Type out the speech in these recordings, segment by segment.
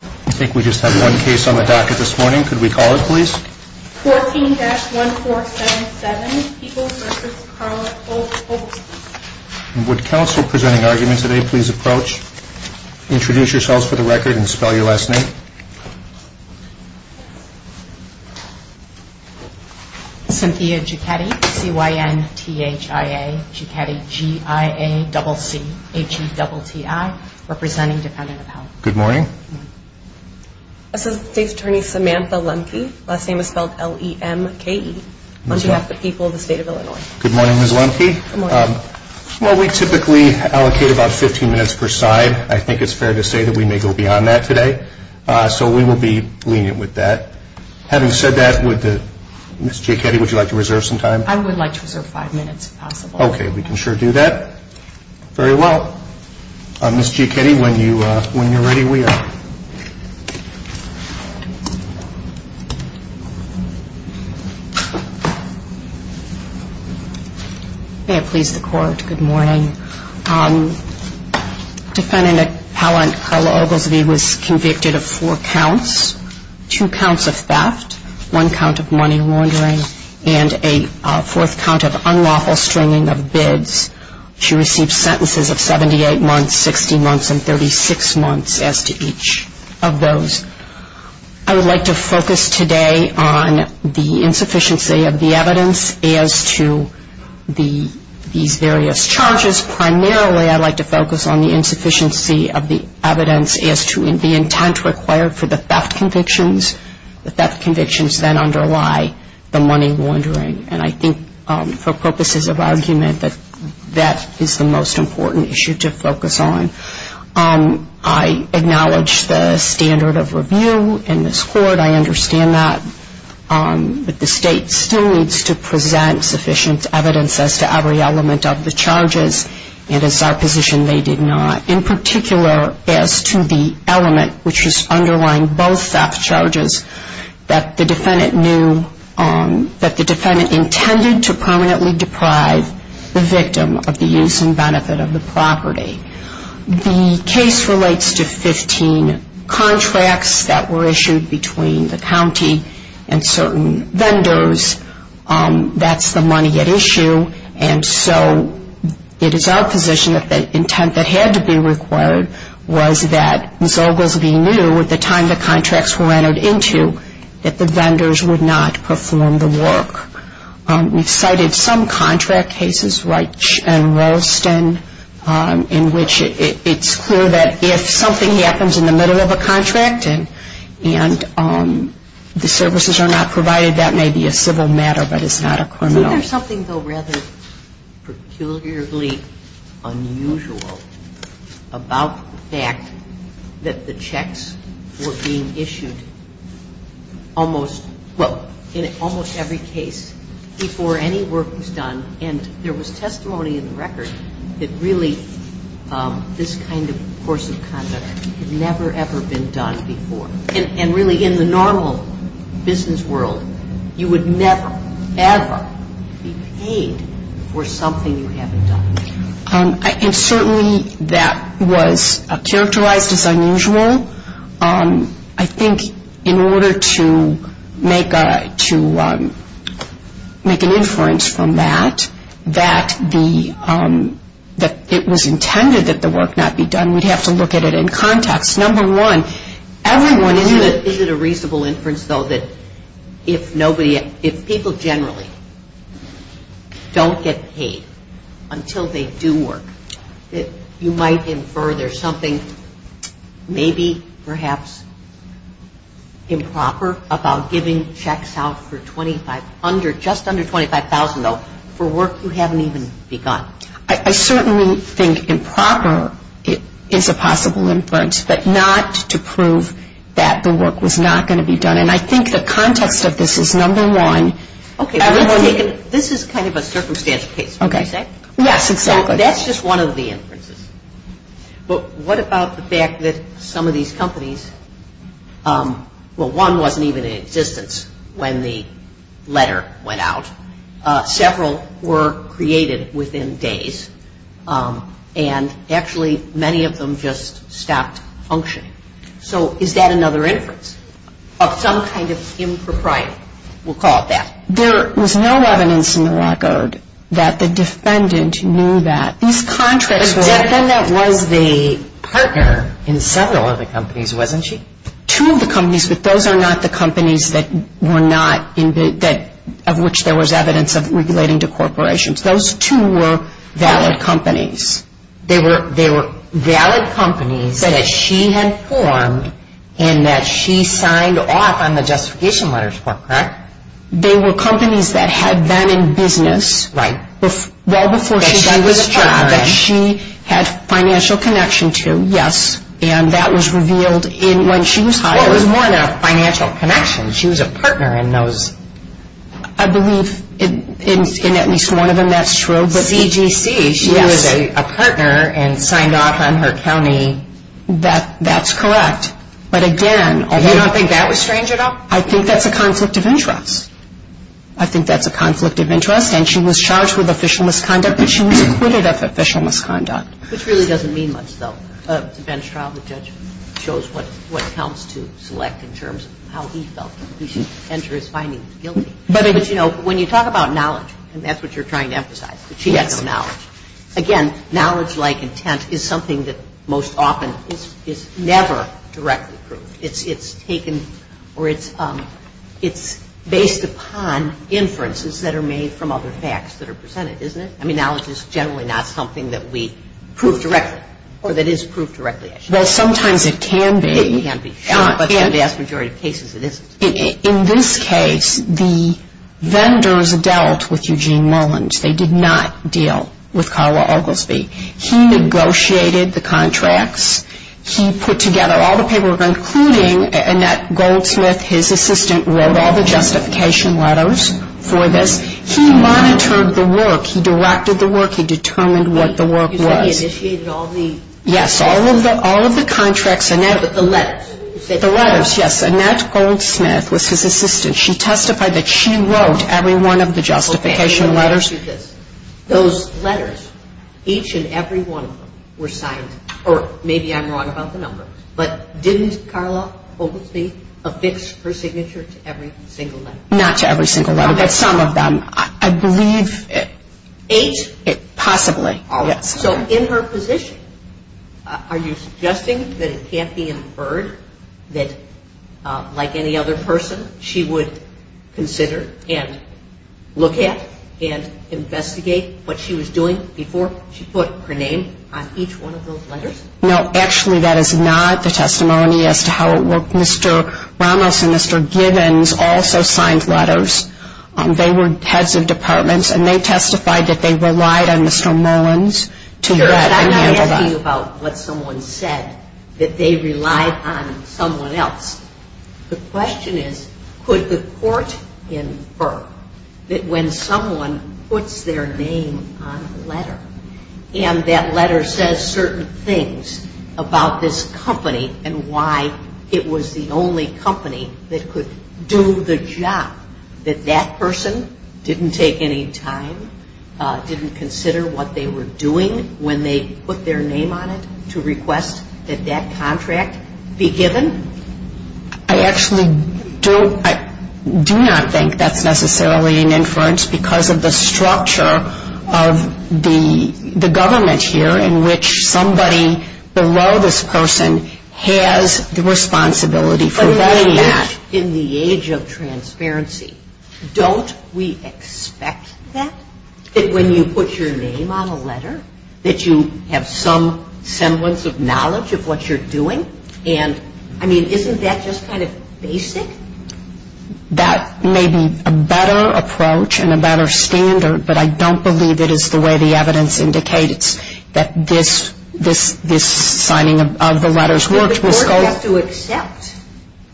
I think we just have one case on the docket this morning. Could we call it, please? 14-1477, People's Service, Carlisle, Oglesby. Would counsel presenting argument today please approach, introduce yourselves for the record, and spell your last name? Cynthia Giacchetti, C-Y-N-T-H-I-A, Giacchetti, G-I-A-C-C-H-E-T-T-I, representing Defendant of Health. Good morning. Assistant State Attorney Samantha Lemke, last name is spelled L-E-M-K-E, on behalf of the people of the state of Illinois. Good morning, Ms. Lemke. Good morning. Well, we typically allocate about 15 minutes per side. I think it's fair to say that we may go beyond that today, so we will be lenient with that. Having said that, Ms. Giacchetti, would you like to reserve some time? I would like to reserve five minutes if possible. Okay, we can sure do that. Very well. Ms. Giacchetti, when you're ready, we are. May it please the Court, good morning. Defendant Appellant Carla Oglesby was convicted of four counts, two counts of theft, one count of money laundering, and a fourth count of unlawful stringing of bids. She received sentences of 78 months, 60 months, and 36 months as to each of those. I would like to focus today on the insufficiency of the evidence as to these various charges. Primarily, I'd like to focus on the insufficiency of the evidence as to the intent required for the theft convictions. The theft convictions then underlie the money laundering. And I think for purposes of argument that that is the most important issue to focus on. I acknowledge the standard of review in this Court. I understand that. But the State still needs to present sufficient evidence as to every element of the charges. And it's our position they did not. In particular, as to the element which is underlying both theft charges, that the defendant intended to permanently deprive the victim of the use and benefit of the property. The case relates to 15 contracts that were issued between the county and certain vendors. That's the money at issue. And so it is our position that the intent that had to be required was that Zogles v. New, at the time the contracts were entered into, that the vendors would not perform the work. We've cited some contract cases, Reich and Rolston, in which it's clear that if something happens in the middle of a contract and the services are not provided, that may be a civil matter, but it's not a criminal. There's something, though, rather peculiarly unusual about the fact that the checks were being issued almost, well, in almost every case before any work was done. And there was testimony in the record that really this kind of course of conduct had never, ever been done before. And really in the normal business world, you would never, ever be paid for something you haven't done. And certainly that was characterized as unusual. I think in order to make an inference from that, that it was intended that the work not be done, we'd have to look at it in context. Number one, everyone is it a reasonable inference, though, that if nobody, if people generally don't get paid until they do work, that you might infer there's something maybe perhaps improper about giving checks out for $2,500, just under $25,000, though, for work you haven't even begun. I certainly think improper is a possible inference, but not to prove that the work was not going to be done. And I think the context of this is number one. Okay. This is kind of a circumstantial case, would you say? Okay. Yes, exactly. That's just one of the inferences. But what about the fact that some of these companies, well, one wasn't even in existence when the letter went out. Several were created within days, and actually many of them just stopped functioning. So is that another inference of some kind of impropriety? We'll call it that. There was no evidence in the record that the defendant knew that. The defendant was the partner in several of the companies, wasn't she? Two of the companies, but those are not the companies of which there was evidence of relating to corporations. Those two were valid companies. They were valid companies that she had formed and that she signed off on the justification letters for, correct? They were companies that had been in business well before she did this job that she had financial connection to, yes, and that was revealed when she was hired. Well, it was more than a financial connection. She was a partner in those. I believe in at least one of them, that's true. CGC, she was a partner and signed off on her county. That's correct. But again, you don't think that was strange at all? I think that's a conflict of interest. I think that's a conflict of interest, and she was charged with official misconduct, but she was acquitted of official misconduct. Which really doesn't mean much, though. The bench trial, the judge shows what counts to select in terms of how he felt. He should enter his findings guilty. But, you know, when you talk about knowledge, and that's what you're trying to emphasize, that she had no knowledge. Again, knowledge like intent is something that most often is never directly proved. It's taken or it's based upon inferences that are made from other facts that are presented, isn't it? I mean, knowledge is generally not something that we prove directly or that is proved directly. Well, sometimes it can be. It can be. But in the vast majority of cases, it isn't. In this case, the vendors dealt with Eugene Mullins. They did not deal with Carla Oglesby. He negotiated the contracts. He put together all the paperwork, including Annette Goldsmith. His assistant wrote all the justification letters for this. He monitored the work. He directed the work. He determined what the work was. You said he initiated all the... Yes, all of the contracts. But the letters. The letters, yes. Annette Goldsmith was his assistant. She testified that she wrote every one of the justification letters. Okay, let me ask you this. Those letters, each and every one of them were signed, or maybe I'm wrong about the number, but didn't Carla Oglesby affix her signature to every single letter? Not to every single letter, but some of them. I believe... Eight? Possibly, yes. So in her position, are you suggesting that it can't be inferred that, like any other person, she would consider and look at and investigate what she was doing before she put her name on each one of those letters? Mr. Ramos and Mr. Gibbons also signed letters. They were heads of departments, and they testified that they relied on Mr. Mullins to write and handle them. Sure, but I'm not asking you about what someone said, that they relied on someone else. The question is, could the court infer that when someone puts their name on a letter and that letter says certain things about this company and why it was the only company that could do the job, that that person didn't take any time, didn't consider what they were doing when they put their name on it, to request that that contract be given? I actually do not think that's necessarily an inference because of the structure of the government here in which somebody below this person has the responsibility for writing that. But in the age of transparency, don't we expect that? That when you put your name on a letter, that you have some semblance of knowledge of what you're doing? And, I mean, isn't that just kind of basic? That may be a better approach and a better standard, but I don't believe it is the way the evidence indicates that this signing of the letters worked. The court has to accept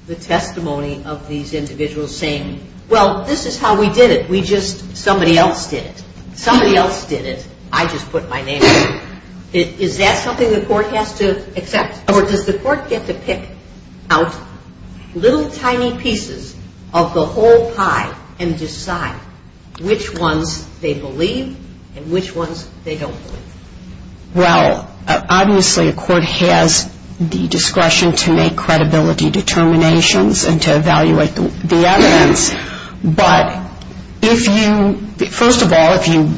the testimony of these individuals saying, well, this is how we did it, we just, somebody else did it. Somebody else did it, I just put my name on it. Is that something the court has to accept? Or does the court get to pick out little tiny pieces of the whole pie and decide which ones they believe and which ones they don't believe? Well, obviously a court has the discretion to make credibility determinations and to evaluate the evidence. But if you, first of all, if you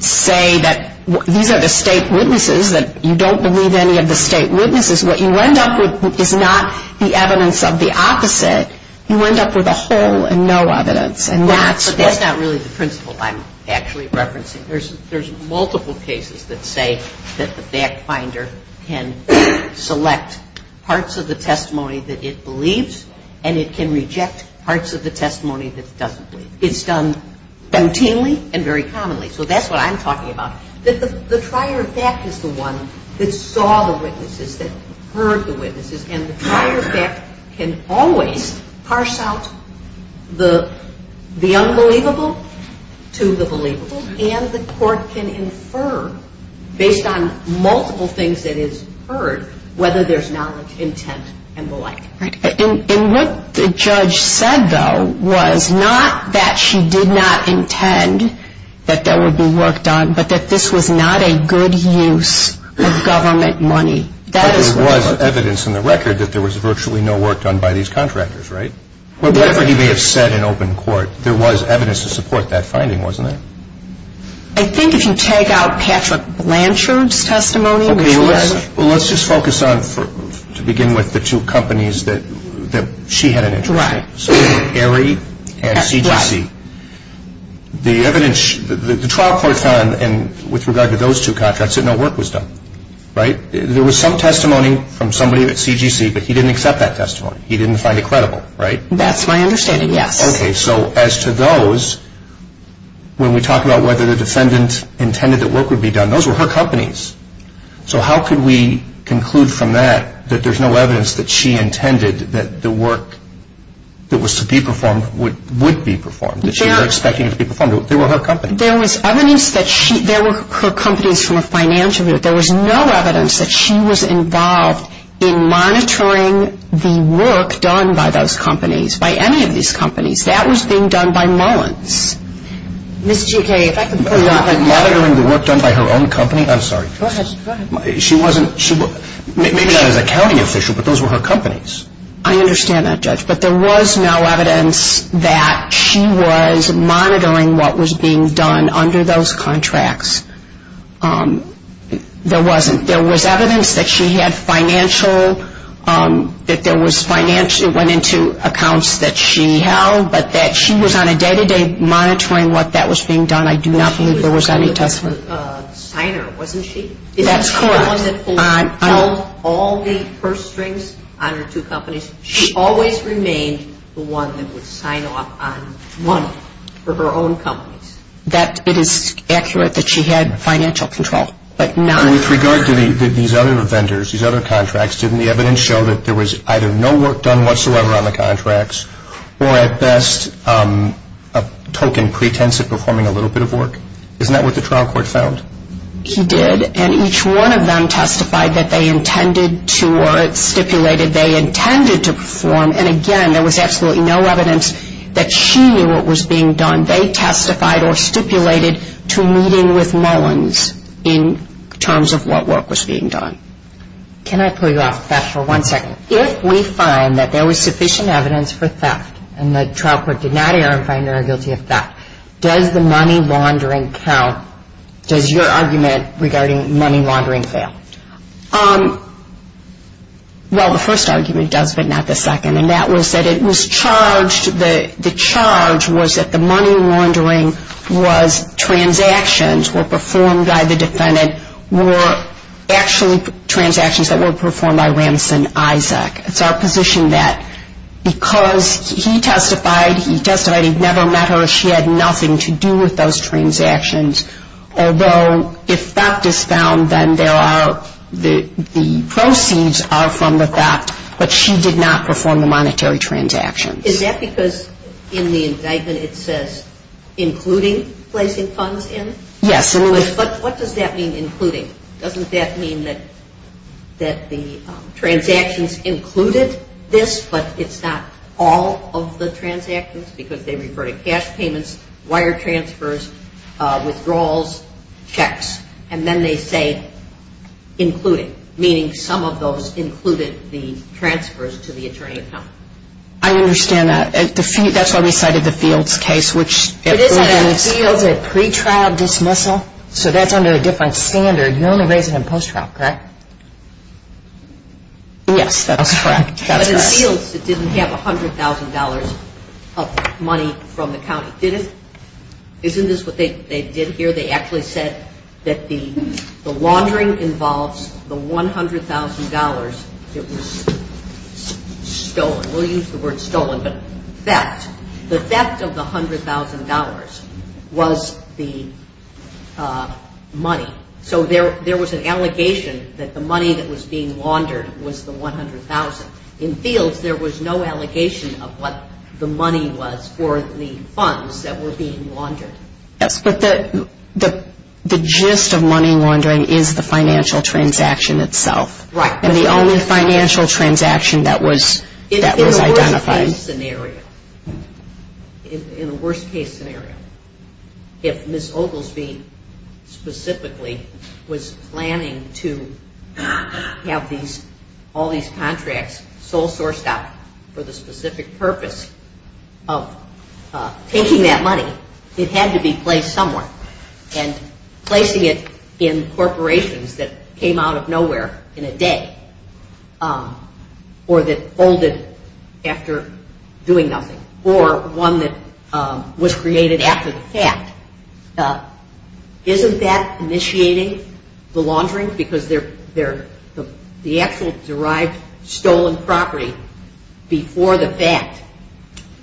say that these are the state witnesses, that you don't believe any of the state witnesses, what you end up with is not the evidence of the opposite. You end up with a whole and no evidence. But that's not really the principle I'm actually referencing. There's multiple cases that say that the fact finder can select parts of the testimony that it believes and it can reject parts of the testimony that it doesn't believe. It's done routinely and very commonly. So that's what I'm talking about. That the prior fact is the one that saw the witnesses, that heard the witnesses. And the prior fact can always parse out the unbelievable to the believable. And the court can infer, based on multiple things that it's heard, whether there's knowledge, intent, and the like. And what the judge said, though, was not that she did not intend that there would be work done, but that this was not a good use of government money. But there was evidence in the record that there was virtually no work done by these contractors, right? Whatever he may have said in open court, there was evidence to support that finding, wasn't there? I think if you take out Patrick Blanchard's testimony. Well, let's just focus on, to begin with, the two companies that she had an interest in. Right. At what? The trial court found, with regard to those two contracts, that no work was done, right? There was some testimony from somebody at CGC, but he didn't accept that testimony. He didn't find it credible, right? That's my understanding, yes. Okay, so as to those, when we talk about whether the defendant intended that work would be done, those were her companies. So how could we conclude from that that there's no evidence that she intended that the work that was to be performed would be performed, that she was expecting it to be performed? They were her companies. There was evidence that she, there were her companies from a financial view. There was no evidence that she was involved in monitoring the work done by those companies, by any of these companies. That was being done by Mullins. Ms. GK, if I could pull you on that. Monitoring the work done by her own company? I'm sorry. Go ahead. She wasn't, maybe not as a county official, but those were her companies. I understand that, Judge, but there was no evidence that she was monitoring what was being done under those contracts. There wasn't. There was evidence that she had financial, that there was financial, it went into accounts that she held, but that she was on a day-to-day monitoring what that was being done. I do not believe there was any testimony. She was a signer, wasn't she? That's correct. Someone that held all the purse strings on her two companies. She always remained the one that would sign off on money for her own companies. That, it is accurate that she had financial control, but not. With regard to these other vendors, these other contracts, didn't the evidence show that there was either no work done whatsoever on the contracts, or at best, a token pretense of performing a little bit of work? Isn't that what the trial court found? She did, and each one of them testified that they intended to, or it stipulated they intended to perform, and again, there was absolutely no evidence that she knew what was being done. They testified or stipulated to meeting with Mullins in terms of what work was being done. Can I pull you off of that for one second? If we find that there was sufficient evidence for theft, and the trial court did not err in finding her guilty of theft, does the money laundering count? Does your argument regarding money laundering fail? Well, the first argument does, but not the second, and that was that it was charged, the charge was that the money laundering was transactions were performed by the defendant were actually transactions that were performed by Ramson Isaac. It's our position that because he testified, he testified he'd never met her, she had nothing to do with those transactions, although if theft is found, then the proceeds are from the theft, but she did not perform the monetary transactions. Is that because in the indictment it says, including placing funds in? Yes. But what does that mean, including? Doesn't that mean that the transactions included this, but it's not all of the transactions because they refer to cash payments, wire transfers, withdrawals, checks, and then they say including, meaning some of those included the transfers to the attorney at home. I understand that. That's why we cited the Fields case. It is under Fields at pretrial dismissal, so that's under a different standard. You only raise it in post-trial, correct? Yes, that's correct. But in Fields it didn't have $100,000 of money from the county, did it? Isn't this what they did here? They actually said that the laundering involves the $100,000 that was stolen. We'll use the word stolen, but theft. The theft of the $100,000 was the money. So there was an allegation that the money that was being laundered was the $100,000. In Fields there was no allegation of what the money was for the funds that were being laundered. Yes, but the gist of money laundering is the financial transaction itself. Right. And the only financial transaction that was identified. In a worst-case scenario, if Ms. Oglesby specifically was planning to have all these contracts sole-sourced out for the specific purpose of taking that money, it had to be placed somewhere. And placing it in corporations that came out of nowhere in a day or that folded after doing nothing or one that was created after the fact, isn't that initiating the laundering? Because the actual derived stolen property before the fact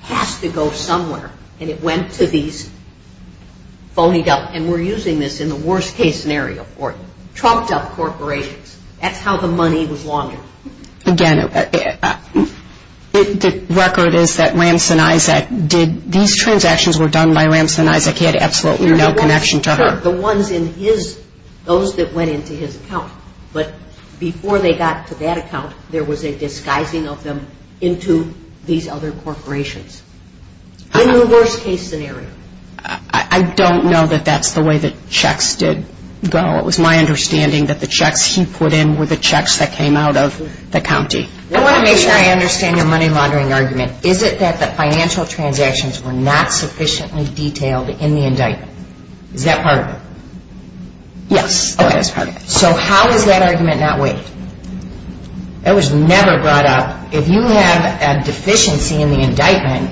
has to go somewhere. And it went to these phonied up, and we're using this in the worst-case scenario, trumped-up corporations. That's how the money was laundered. Again, the record is that Ramson Isaac, these transactions were done by Ramson Isaac. He had absolutely no connection to her. The ones in his, those that went into his account. But before they got to that account, there was a disguising of them into these other corporations. In the worst-case scenario. I don't know that that's the way the checks did go. It was my understanding that the checks he put in were the checks that came out of the county. I want to make sure I understand your money laundering argument. Is it that the financial transactions were not sufficiently detailed in the indictment? Is that part of it? Yes, that is part of it. So how is that argument not weighed? That was never brought up. If you have a deficiency in the indictment,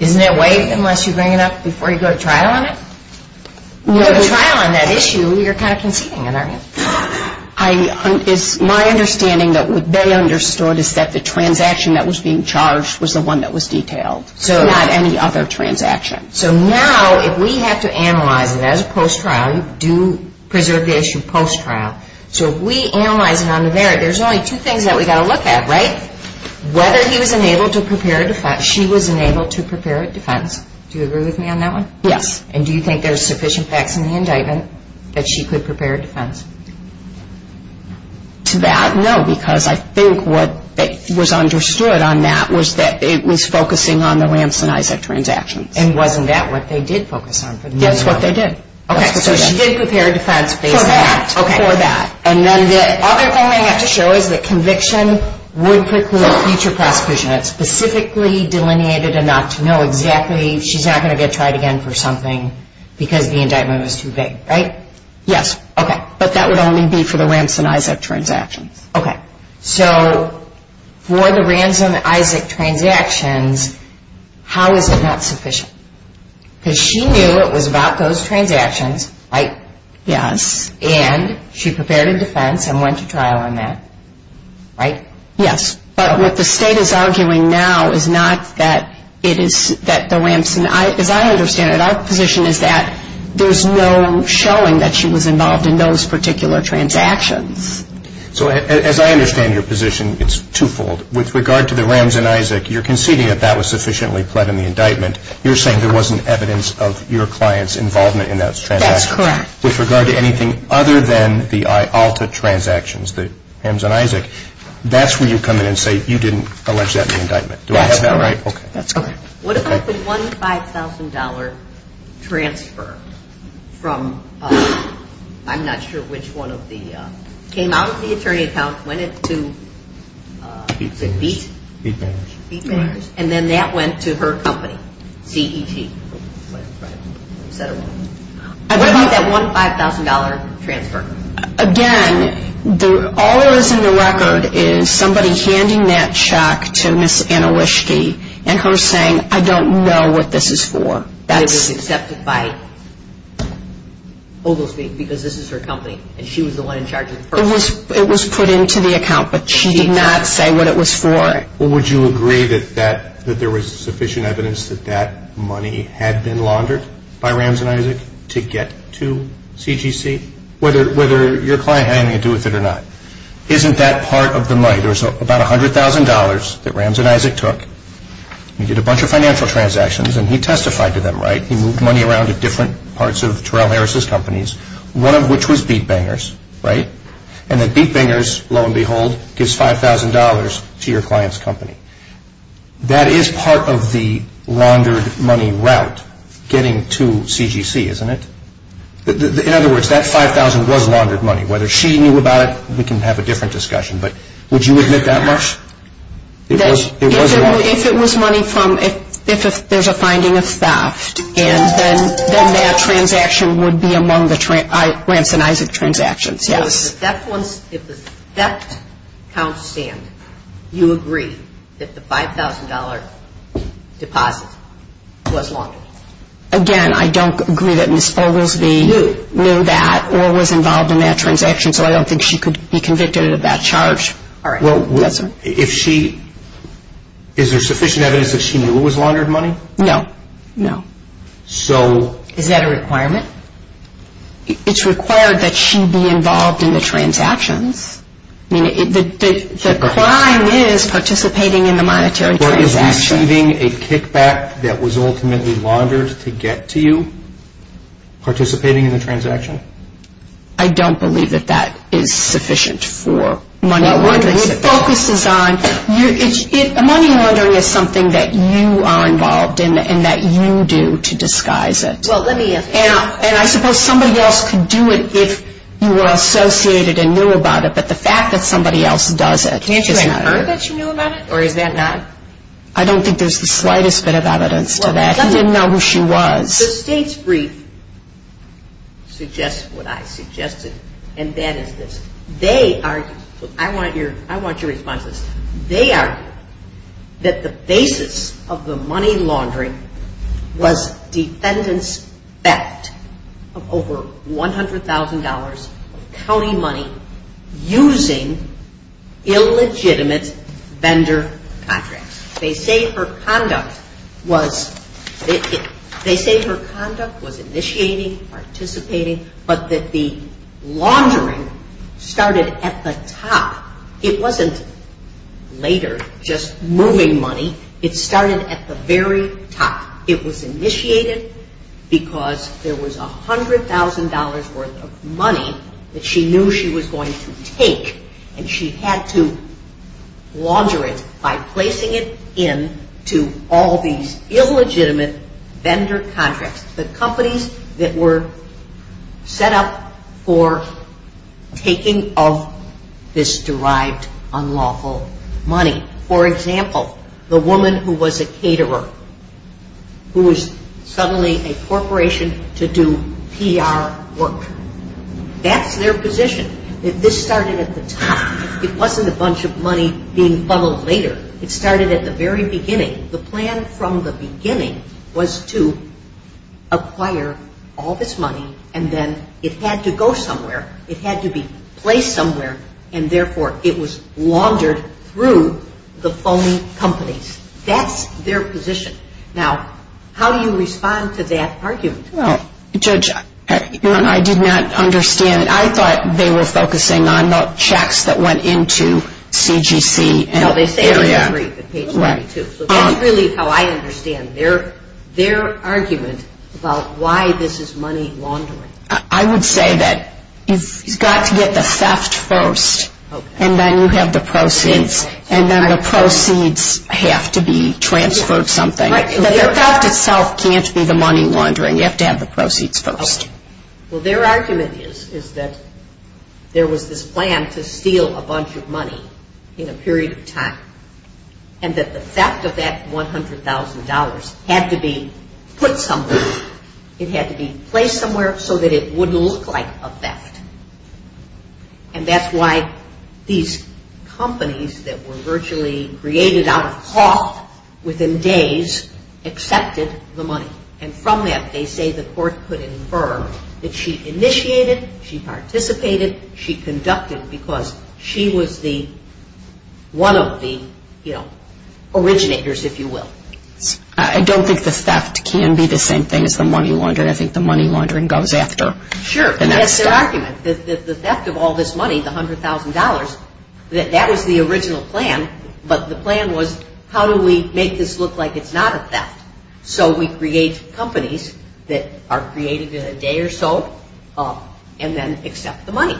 isn't it weighed unless you bring it up before you go to trial on it? You go to trial on that issue, you're kind of conceding it, aren't you? It's my understanding that what they understood is that the transaction that was being charged was the one that was detailed. So not any other transaction. So now if we have to analyze it as a post-trial, you do preserve the issue post-trial. So if we analyze it on the merit, there's only two things that we've got to look at, right? Whether he was unable to prepare a defense, she was unable to prepare a defense. Do you agree with me on that one? Yes. And do you think there's sufficient facts in the indictment that she could prepare a defense? To that, no, because I think what was understood on that was that it was focusing on the Ramson-Isaac transactions. And wasn't that what they did focus on? That's what they did. Okay, so she did prepare a defense based on that. For that. For that. And then the other thing they have to show is that conviction would preclude future prosecution. It's specifically delineated enough to know exactly she's not going to get tried again for something because the indictment was too vague, right? Yes. Okay. But that would only be for the Ramson-Isaac transactions. Okay. So for the Ramson-Isaac transactions, how is it not sufficient? Because she knew it was about those transactions, right? Yes. And she prepared a defense and went to trial on that, right? Yes. But what the State is arguing now is not that it is that the Ramson-Isaac. As I understand it, our position is that there's no showing that she was involved in those particular transactions. So as I understand your position, it's twofold. With regard to the Ramson-Isaac, you're conceding that that was sufficiently pled in the indictment. You're saying there wasn't evidence of your client's involvement in those transactions. That's correct. With regard to anything other than the IALTA transactions, the Ramson-Isaac, that's where you come in and say you didn't allege that in the indictment. Do I have that right? That's correct. Okay. What about the $1,500 transfer from I'm not sure which one of the came out of the attorney's account, went into the beat? Beat bankers. Beat bankers. And then that went to her company, CET. What about that $1,500 transfer? Again, all that is in the record is somebody handing that check to Ms. Anna Wischke and her saying, I don't know what this is for. It was accepted by Oglesby because this is her company and she was the one in charge of the firm. It was put into the account, but she did not say what it was for. Would you agree that there was sufficient evidence that that money had been laundered by Ramson-Isaac to get to CGC, whether your client had anything to do with it or not? Isn't that part of the money? There was about $100,000 that Ramson-Isaac took. He did a bunch of financial transactions and he testified to them, right? He moved money around to different parts of Terrell Harris's companies, one of which was beat bankers, right? And the beat bankers, lo and behold, gives $5,000 to your client's company. That is part of the laundered money route getting to CGC, isn't it? In other words, that $5,000 was laundered money. Whether she knew about it, we can have a different discussion, but would you admit that much? If it was money from – if there's a finding of theft, then that transaction would be among the Ramson-Isaac transactions, yes. If the theft counts stand, you agree that the $5,000 deposit was laundered? Again, I don't agree that Ms. Foglesby knew that or was involved in that transaction, so I don't think she could be convicted of that charge. All right. Well, if she – is there sufficient evidence that she knew it was laundered money? No, no. So – Is that a requirement? It's required that she be involved in the transactions. I mean, the crime is participating in the monetary transaction. What, is receiving a kickback that was ultimately laundered to get to you, participating in the transaction? I don't believe that that is sufficient for money laundering. Well, what it focuses on – money laundering is something that you are involved in and that you do to disguise it. Well, let me ask you – And I suppose somebody else could do it if you were associated and knew about it, but the fact that somebody else does it is not – Can you assure her that she knew about it, or is that not – I don't think there's the slightest bit of evidence to that. He didn't know who she was. The state's brief suggests what I suggested, and that is this. They argue – I want your – I want your response to this. They argue that the basis of the money laundering was defendants' theft of over $100,000 of county money using illegitimate vendor contracts. They say her conduct was – they say her conduct was initiating, participating, but that the laundering started at the top. It wasn't later just moving money. It started at the very top. It was initiated because there was $100,000 worth of money that she knew she was going to take, and she had to launder it by placing it into all these illegitimate vendor contracts, the companies that were set up for taking of this derived unlawful money. For example, the woman who was a caterer who was suddenly a corporation to do PR work. That's their position, that this started at the top. It wasn't a bunch of money being funneled later. It started at the very beginning. The plan from the beginning was to acquire all this money, and then it had to go somewhere. It had to be placed somewhere, and therefore it was laundered through the phony companies. That's their position. Now, how do you respond to that argument? Well, Judge, I did not understand. I thought they were focusing on the checks that went into CGC. That's really how I understand their argument about why this is money laundering. I would say that you've got to get the theft first, and then you have the proceeds, and then the proceeds have to be transferred something. The theft itself can't be the money laundering. You have to have the proceeds first. Well, their argument is that there was this plan to steal a bunch of money in a period of time, and that the theft of that $100,000 had to be put somewhere. It had to be placed somewhere so that it wouldn't look like a theft. And that's why these companies that were virtually created out of cloth within days accepted the money. And from that, they say the court could infer that she initiated, she participated, she conducted because she was one of the originators, if you will. I don't think the theft can be the same thing as the money laundering. I think the money laundering goes after the next step. Sure, but that's their argument. The theft of all this money, the $100,000, that was the original plan, but the plan was how do we make this look like it's not a theft? So we create companies that are created in a day or so and then accept the money.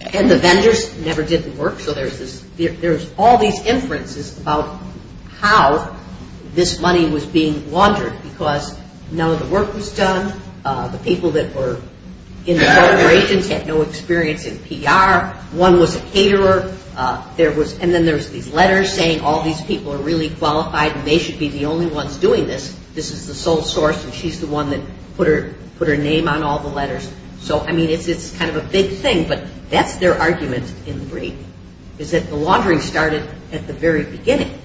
And the vendors never did the work. So there's all these inferences about how this money was being laundered because none of the work was done. The people that were in the corporations had no experience in PR. One was a caterer. And then there's these letters saying all these people are really qualified and they should be the only ones doing this. This is the sole source and she's the one that put her name on all the letters. So, I mean, it's kind of a big thing. But that's their argument in the brief is that the laundering started at the very beginning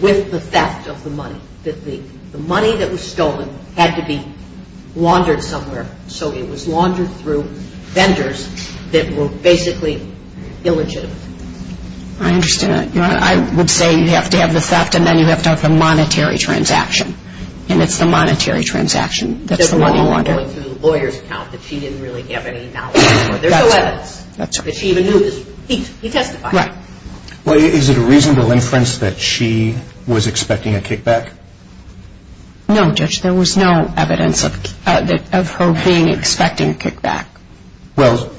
with the theft of the money, that the money that was stolen had to be laundered somewhere. So it was laundered through vendors that were basically illegitimate. I understand that. I would say you have to have the theft and then you have to have the monetary transaction. And it's the monetary transaction that's the money laundered. It wasn't laundered through the lawyer's account that she didn't really have any knowledge of. There's no evidence that she even knew this. He testified. Right. Well, is it a reasonable inference that she was expecting a kickback? No, Judge, there was no evidence of her being expecting a kickback. Well,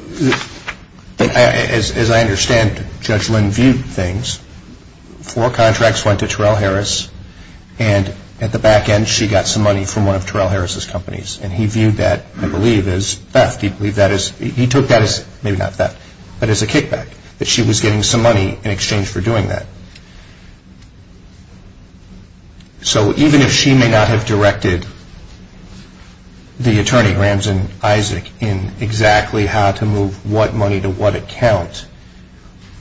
as I understand, Judge Lynn viewed things. Four contracts went to Terrell Harris and at the back end, she got some money from one of Terrell Harris's companies. And he viewed that, I believe, as theft. He took that as, maybe not theft, but as a kickback, that she was getting some money in exchange for doing that. So even if she may not have directed the attorney, Ramson Isaac, in exactly how to move what money to what account,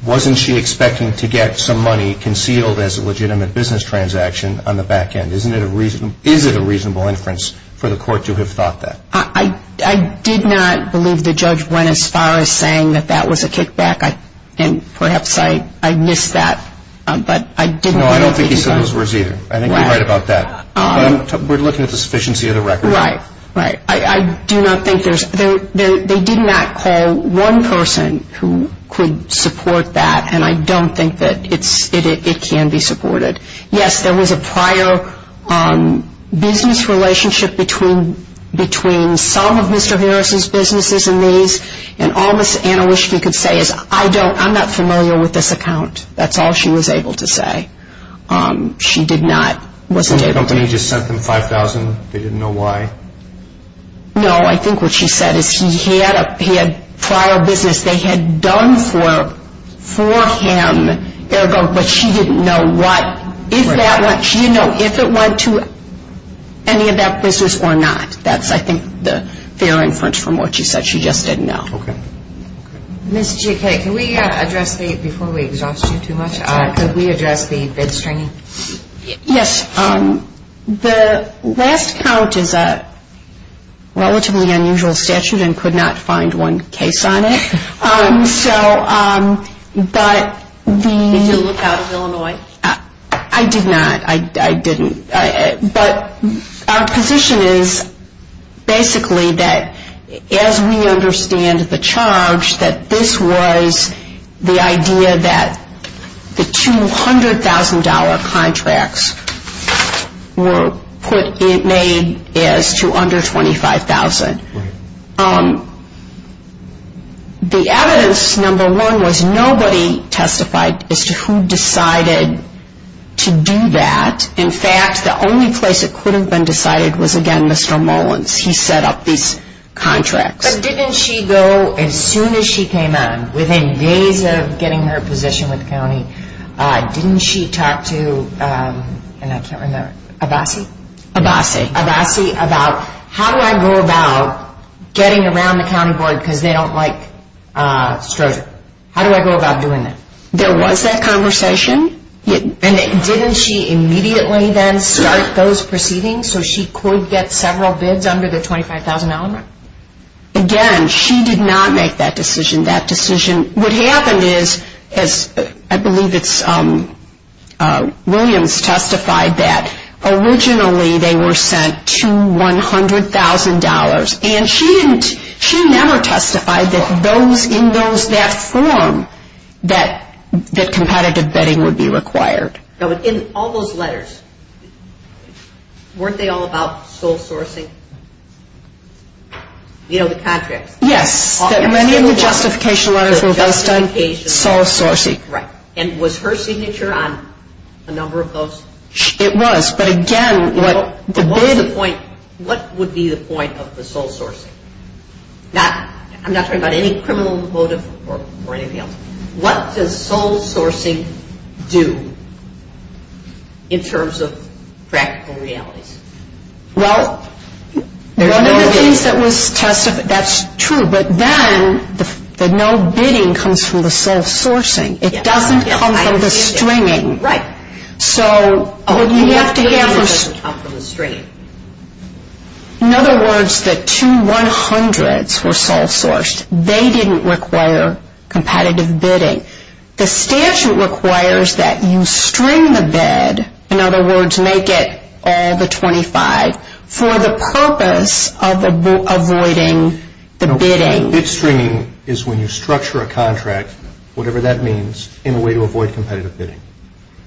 wasn't she expecting to get some money concealed as a legitimate business transaction on the back end? Is it a reasonable inference for the court to have thought that? I did not believe the judge went as far as saying that that was a kickback. And perhaps I missed that, but I didn't believe he did. No, I don't think he said those words either. I think you're right about that. But we're looking at the sufficiency of the record. Right, right. I do not think there's – they did not call one person who could support that, and I don't think that it can be supported. Yes, there was a prior business relationship between some of Mr. Harris's businesses and these, and all Ms. Anna Wischke could say is, I don't – I'm not familiar with this account. That's all she was able to say. She did not – wasn't able to. Didn't the company just send them $5,000? They didn't know why? No, I think what she said is he had a prior business they had done for him, but she didn't know what – she didn't know if it went to any of that business or not. That's, I think, the fair inference from what she said. She just didn't know. Okay. Okay. Ms. JK, can we address the – before we exhaust you too much, could we address the bid stringing? Yes. The last count is a relatively unusual statute and could not find one case on it. So, but the – Did you look out of Illinois? I did not. I didn't. But our position is basically that as we understand the charge, that this was the idea that the $200,000 contracts were put – made as to under $25,000. Right. The evidence, number one, was nobody testified as to who decided to do that. In fact, the only place it could have been decided was, again, Mr. Mullins. He set up these contracts. But didn't she go, as soon as she came in, within days of getting her position with the county, didn't she talk to – and I can't remember – Abassi? Abassi. Abassi about how do I go about getting around the county board because they don't like Strozier? How do I go about doing that? There was that conversation. And didn't she immediately then start those proceedings so she could get several bids under the $25,000 mark? Again, she did not make that decision. That decision – what happened is, as I believe it's – Williams testified that originally they were sent to $100,000. And she never testified that in that form that competitive bidding would be required. In all those letters, weren't they all about sole sourcing? You know, the contracts. Yes. Many of the justification letters were based on sole sourcing. Right. And was her signature on a number of those? It was. What would be the point of the sole sourcing? I'm not talking about any criminal motive or anything else. What does sole sourcing do in terms of practical realities? Well, one of the things that was testified – that's true. But then the no bidding comes from the sole sourcing. It doesn't come from the stringing. Right. So what you have to have is – It doesn't come from the stringing. In other words, the two $100,000s were sole sourced. They didn't require competitive bidding. The statute requires that you string the bid – in other words, make it all the $25,000 – for the purpose of avoiding the bidding. No, bid stringing is when you structure a contract, whatever that means, in a way to avoid competitive bidding.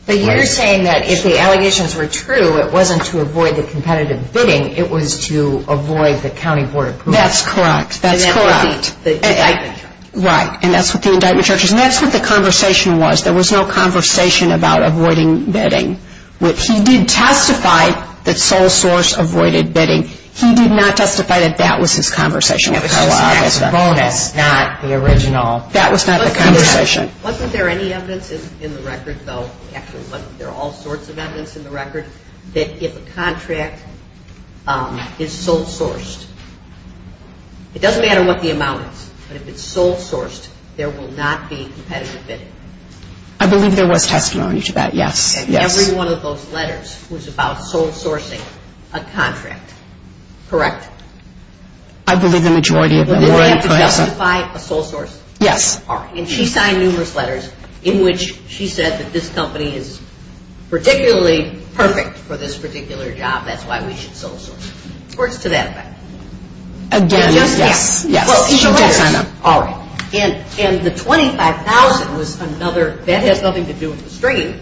But you're saying that if the allegations were true, it wasn't to avoid the competitive bidding. It was to avoid the county board approval. That's correct. And that's what the indictment charges. Right. And that's what the indictment charges. And that's what the conversation was. There was no conversation about avoiding bidding. He did testify that sole source avoided bidding. He did not testify that that was his conversation. It was just an extra bonus, not the original. That was not the conversation. Wasn't there any evidence in the record, though? Actually, wasn't there all sorts of evidence in the record, that if a contract is sole sourced, it doesn't matter what the amount is, but if it's sole sourced, there will not be competitive bidding? I believe there was testimony to that, yes. And every one of those letters was about sole sourcing a contract, correct? I believe the majority of them were. Did the lawyer have to justify a sole source? Yes. All right. And she signed numerous letters in which she said that this company is particularly perfect for this particular job, that's why we should sole source it. Or it's to that effect. Again, yes. Yes. She did sign them. All right. And the $25,000 was another – that has nothing to do with the stringing,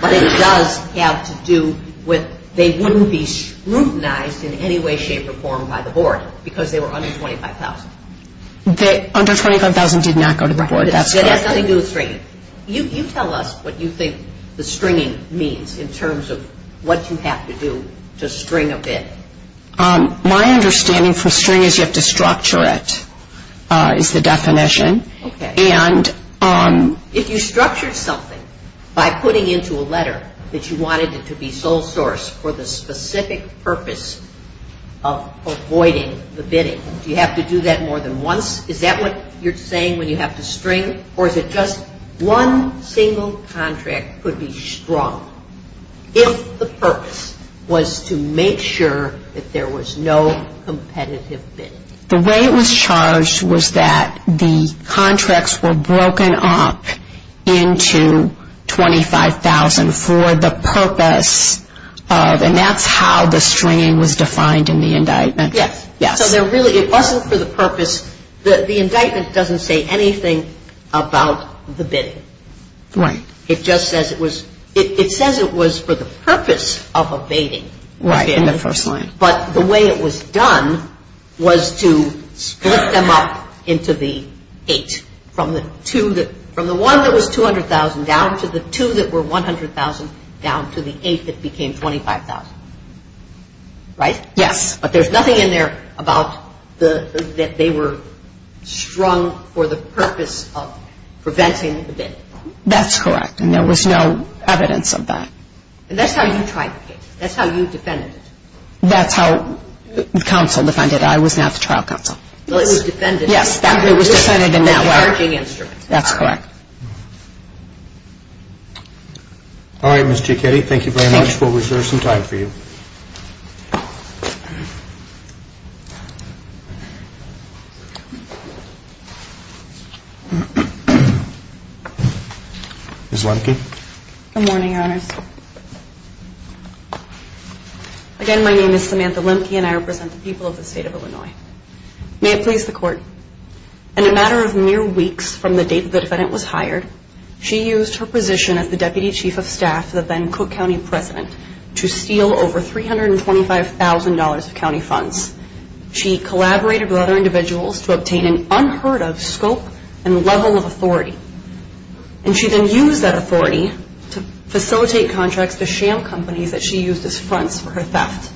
but it does have to do with they wouldn't be scrutinized in any way, shape, or form by the board because they were under $25,000. Under $25,000 did not go to the board. That's correct. It has nothing to do with stringing. You tell us what you think the stringing means in terms of what you have to do to string a bid. My understanding for string is you have to structure it, is the definition. Okay. And – If you structure something by putting into a letter that you wanted it to be sole sourced for the specific purpose of avoiding the bidding, do you have to do that more than once? Is that what you're saying when you have to string, or is it just one single contract could be strong if the purpose was to make sure that there was no competitive bidding? The way it was charged was that the contracts were broken up into $25,000 for the purpose of – and that's how the stringing was defined in the indictment. Yes. Yes. So there really – it wasn't for the purpose – the indictment doesn't say anything about the bidding. Right. It just says it was – it says it was for the purpose of evading the bidding. Right, in the first line. But the way it was done was to split them up into the eight, from the two that – from the one that was $200,000 down to the two that were $100,000 down to the eight that became $25,000. Right? Yes. But there's nothing in there about the – that they were strung for the purpose of preventing the bidding. That's correct, and there was no evidence of that. And that's how you tried the case. That's how you defended it. That's how the counsel defended it. I was not the trial counsel. Well, it was defended – That's correct. All right, Ms. Cicchetti, thank you very much. We'll reserve some time for you. Ms. Lemke. Good morning, Your Honors. Again, my name is Samantha Lemke, and I represent the people of the State of Illinois. May it please the Court, in a matter of mere weeks from the date the defendant was hired, she used her position as the Deputy Chief of Staff to the then Cook County President to steal over $325,000 of county funds. She collaborated with other individuals to obtain an unheard-of scope and level of authority, and she then used that authority to facilitate contracts to shale companies that she used as fronts for her theft.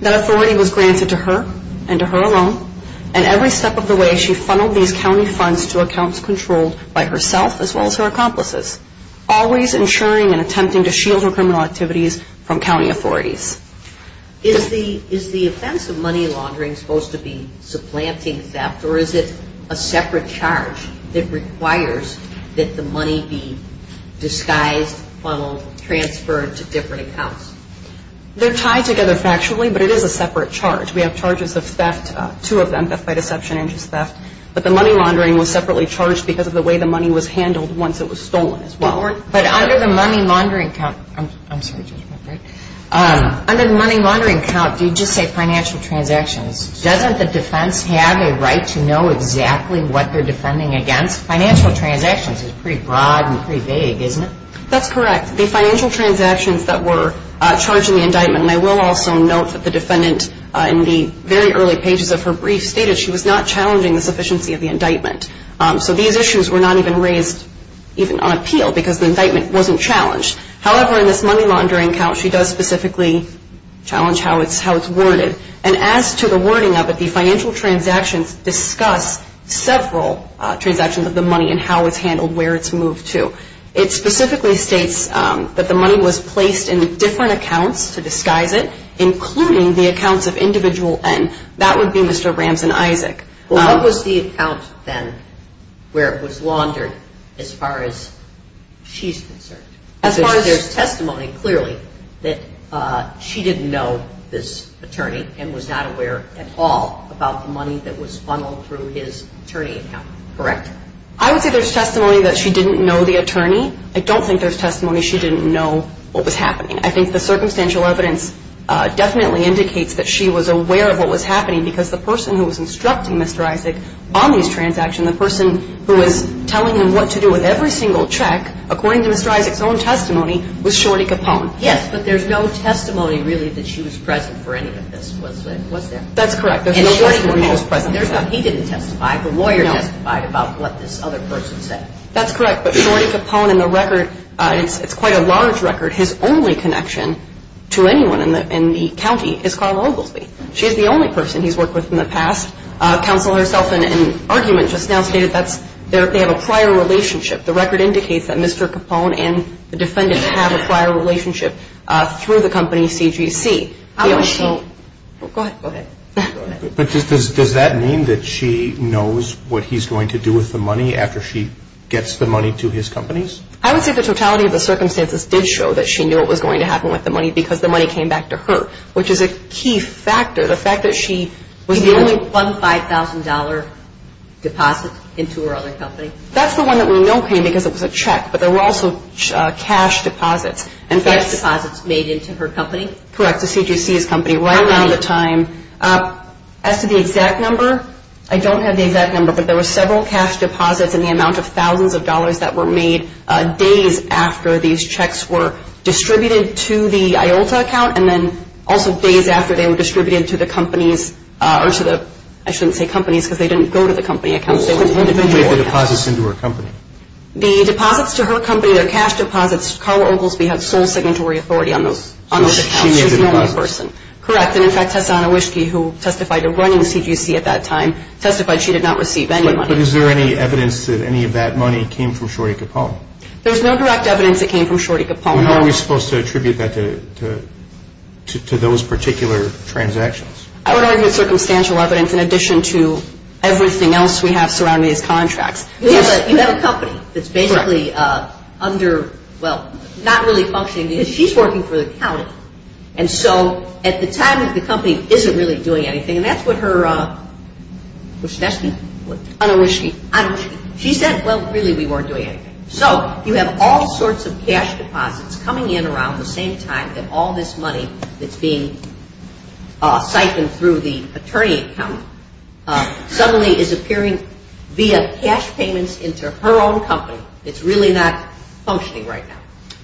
That authority was granted to her and to her alone, and every step of the way she funneled these county funds to accounts controlled by herself as well as her accomplices, always insuring and attempting to shield her criminal activities from county authorities. Is the offense of money laundering supposed to be supplanting theft, or is it a separate charge that requires that the money be disguised, funneled, transferred to different accounts? They're tied together factually, but it is a separate charge. We have charges of theft, two of them, theft by deception and just theft, but the money laundering was separately charged because of the way the money was handled once it was stolen as well. But under the money laundering count, I'm sorry, Judge, am I right? Under the money laundering count, do you just say financial transactions? Doesn't the defense have a right to know exactly what they're defending against? Financial transactions is pretty broad and pretty vague, isn't it? That's correct. The financial transactions that were charged in the indictment, and I will also note that the defendant in the very early pages of her brief stated she was not challenging the sufficiency of the indictment. So these issues were not even raised even on appeal because the indictment wasn't challenged. However, in this money laundering count, she does specifically challenge how it's worded, and as to the wording of it, the financial transactions discuss several transactions of the money and how it's handled, where it's moved to. It specifically states that the money was placed in different accounts to disguise it, including the accounts of individual N. That would be Mr. Rams and Isaac. Well, what was the account then where it was laundered as far as she's concerned? As far as there's testimony, clearly, that she didn't know this attorney and was not aware at all about the money that was funneled through his attorney account, correct? I would say there's testimony that she didn't know the attorney. I don't think there's testimony she didn't know what was happening. I think the circumstantial evidence definitely indicates that she was aware of what was happening because the person who was instructing Mr. Isaac on these transactions, the person who was telling him what to do with every single check, according to Mr. Isaac's own testimony, was Shorty Capone. Yes, but there's no testimony really that she was present for any of this, was there? That's correct. And Shorty Capone was present. He didn't testify. The lawyer testified about what this other person said. That's correct. But Shorty Capone, in the record, it's quite a large record. His only connection to anyone in the county is Carla Oglesby. She's the only person he's worked with in the past. Counsel herself in an argument just now stated they have a prior relationship. The record indicates that Mr. Capone and the defendant have a prior relationship through the company CGC. Go ahead. But does that mean that she knows what he's going to do with the money after she gets the money to his companies? I would say the totality of the circumstances did show that she knew what was going to happen with the money because the money came back to her, which is a key factor. The fact that she was the only one. Did she only fund $5,000 deposits into her other company? That's the one that we know came because it was a check, but there were also cash deposits. Cash deposits made into her company? Correct, the CGC's company. Right around the time. As to the exact number, I don't have the exact number, but there were several cash deposits in the amount of thousands of dollars that were made days after these checks were distributed to the IOLTA account and then also days after they were distributed to the companies, or to the, I shouldn't say companies because they didn't go to the company accounts. Who made the deposits into her company? The deposits to her company, their cash deposits, Carla Oglesby had sole signatory authority on those accounts. She was the only person. Correct, and in fact, Tessana Whiskey, who testified to running CGC at that time, testified she did not receive any money. But is there any evidence that any of that money came from Shorty Capone? There's no direct evidence it came from Shorty Capone. How are we supposed to attribute that to those particular transactions? I would argue it's circumstantial evidence in addition to everything else we have surrounding these contracts. You have a company that's basically under, well, not really functioning because she's working for the county, and so at the time the company isn't really doing anything, and that's what her, what's her last name? Anna Whiskey. Anna Whiskey. She said, well, really we weren't doing anything. So you have all sorts of cash deposits coming in around the same time that all this money that's being siphoned through the attorney account suddenly is appearing via cash payments into her own company. It's really not functioning right now.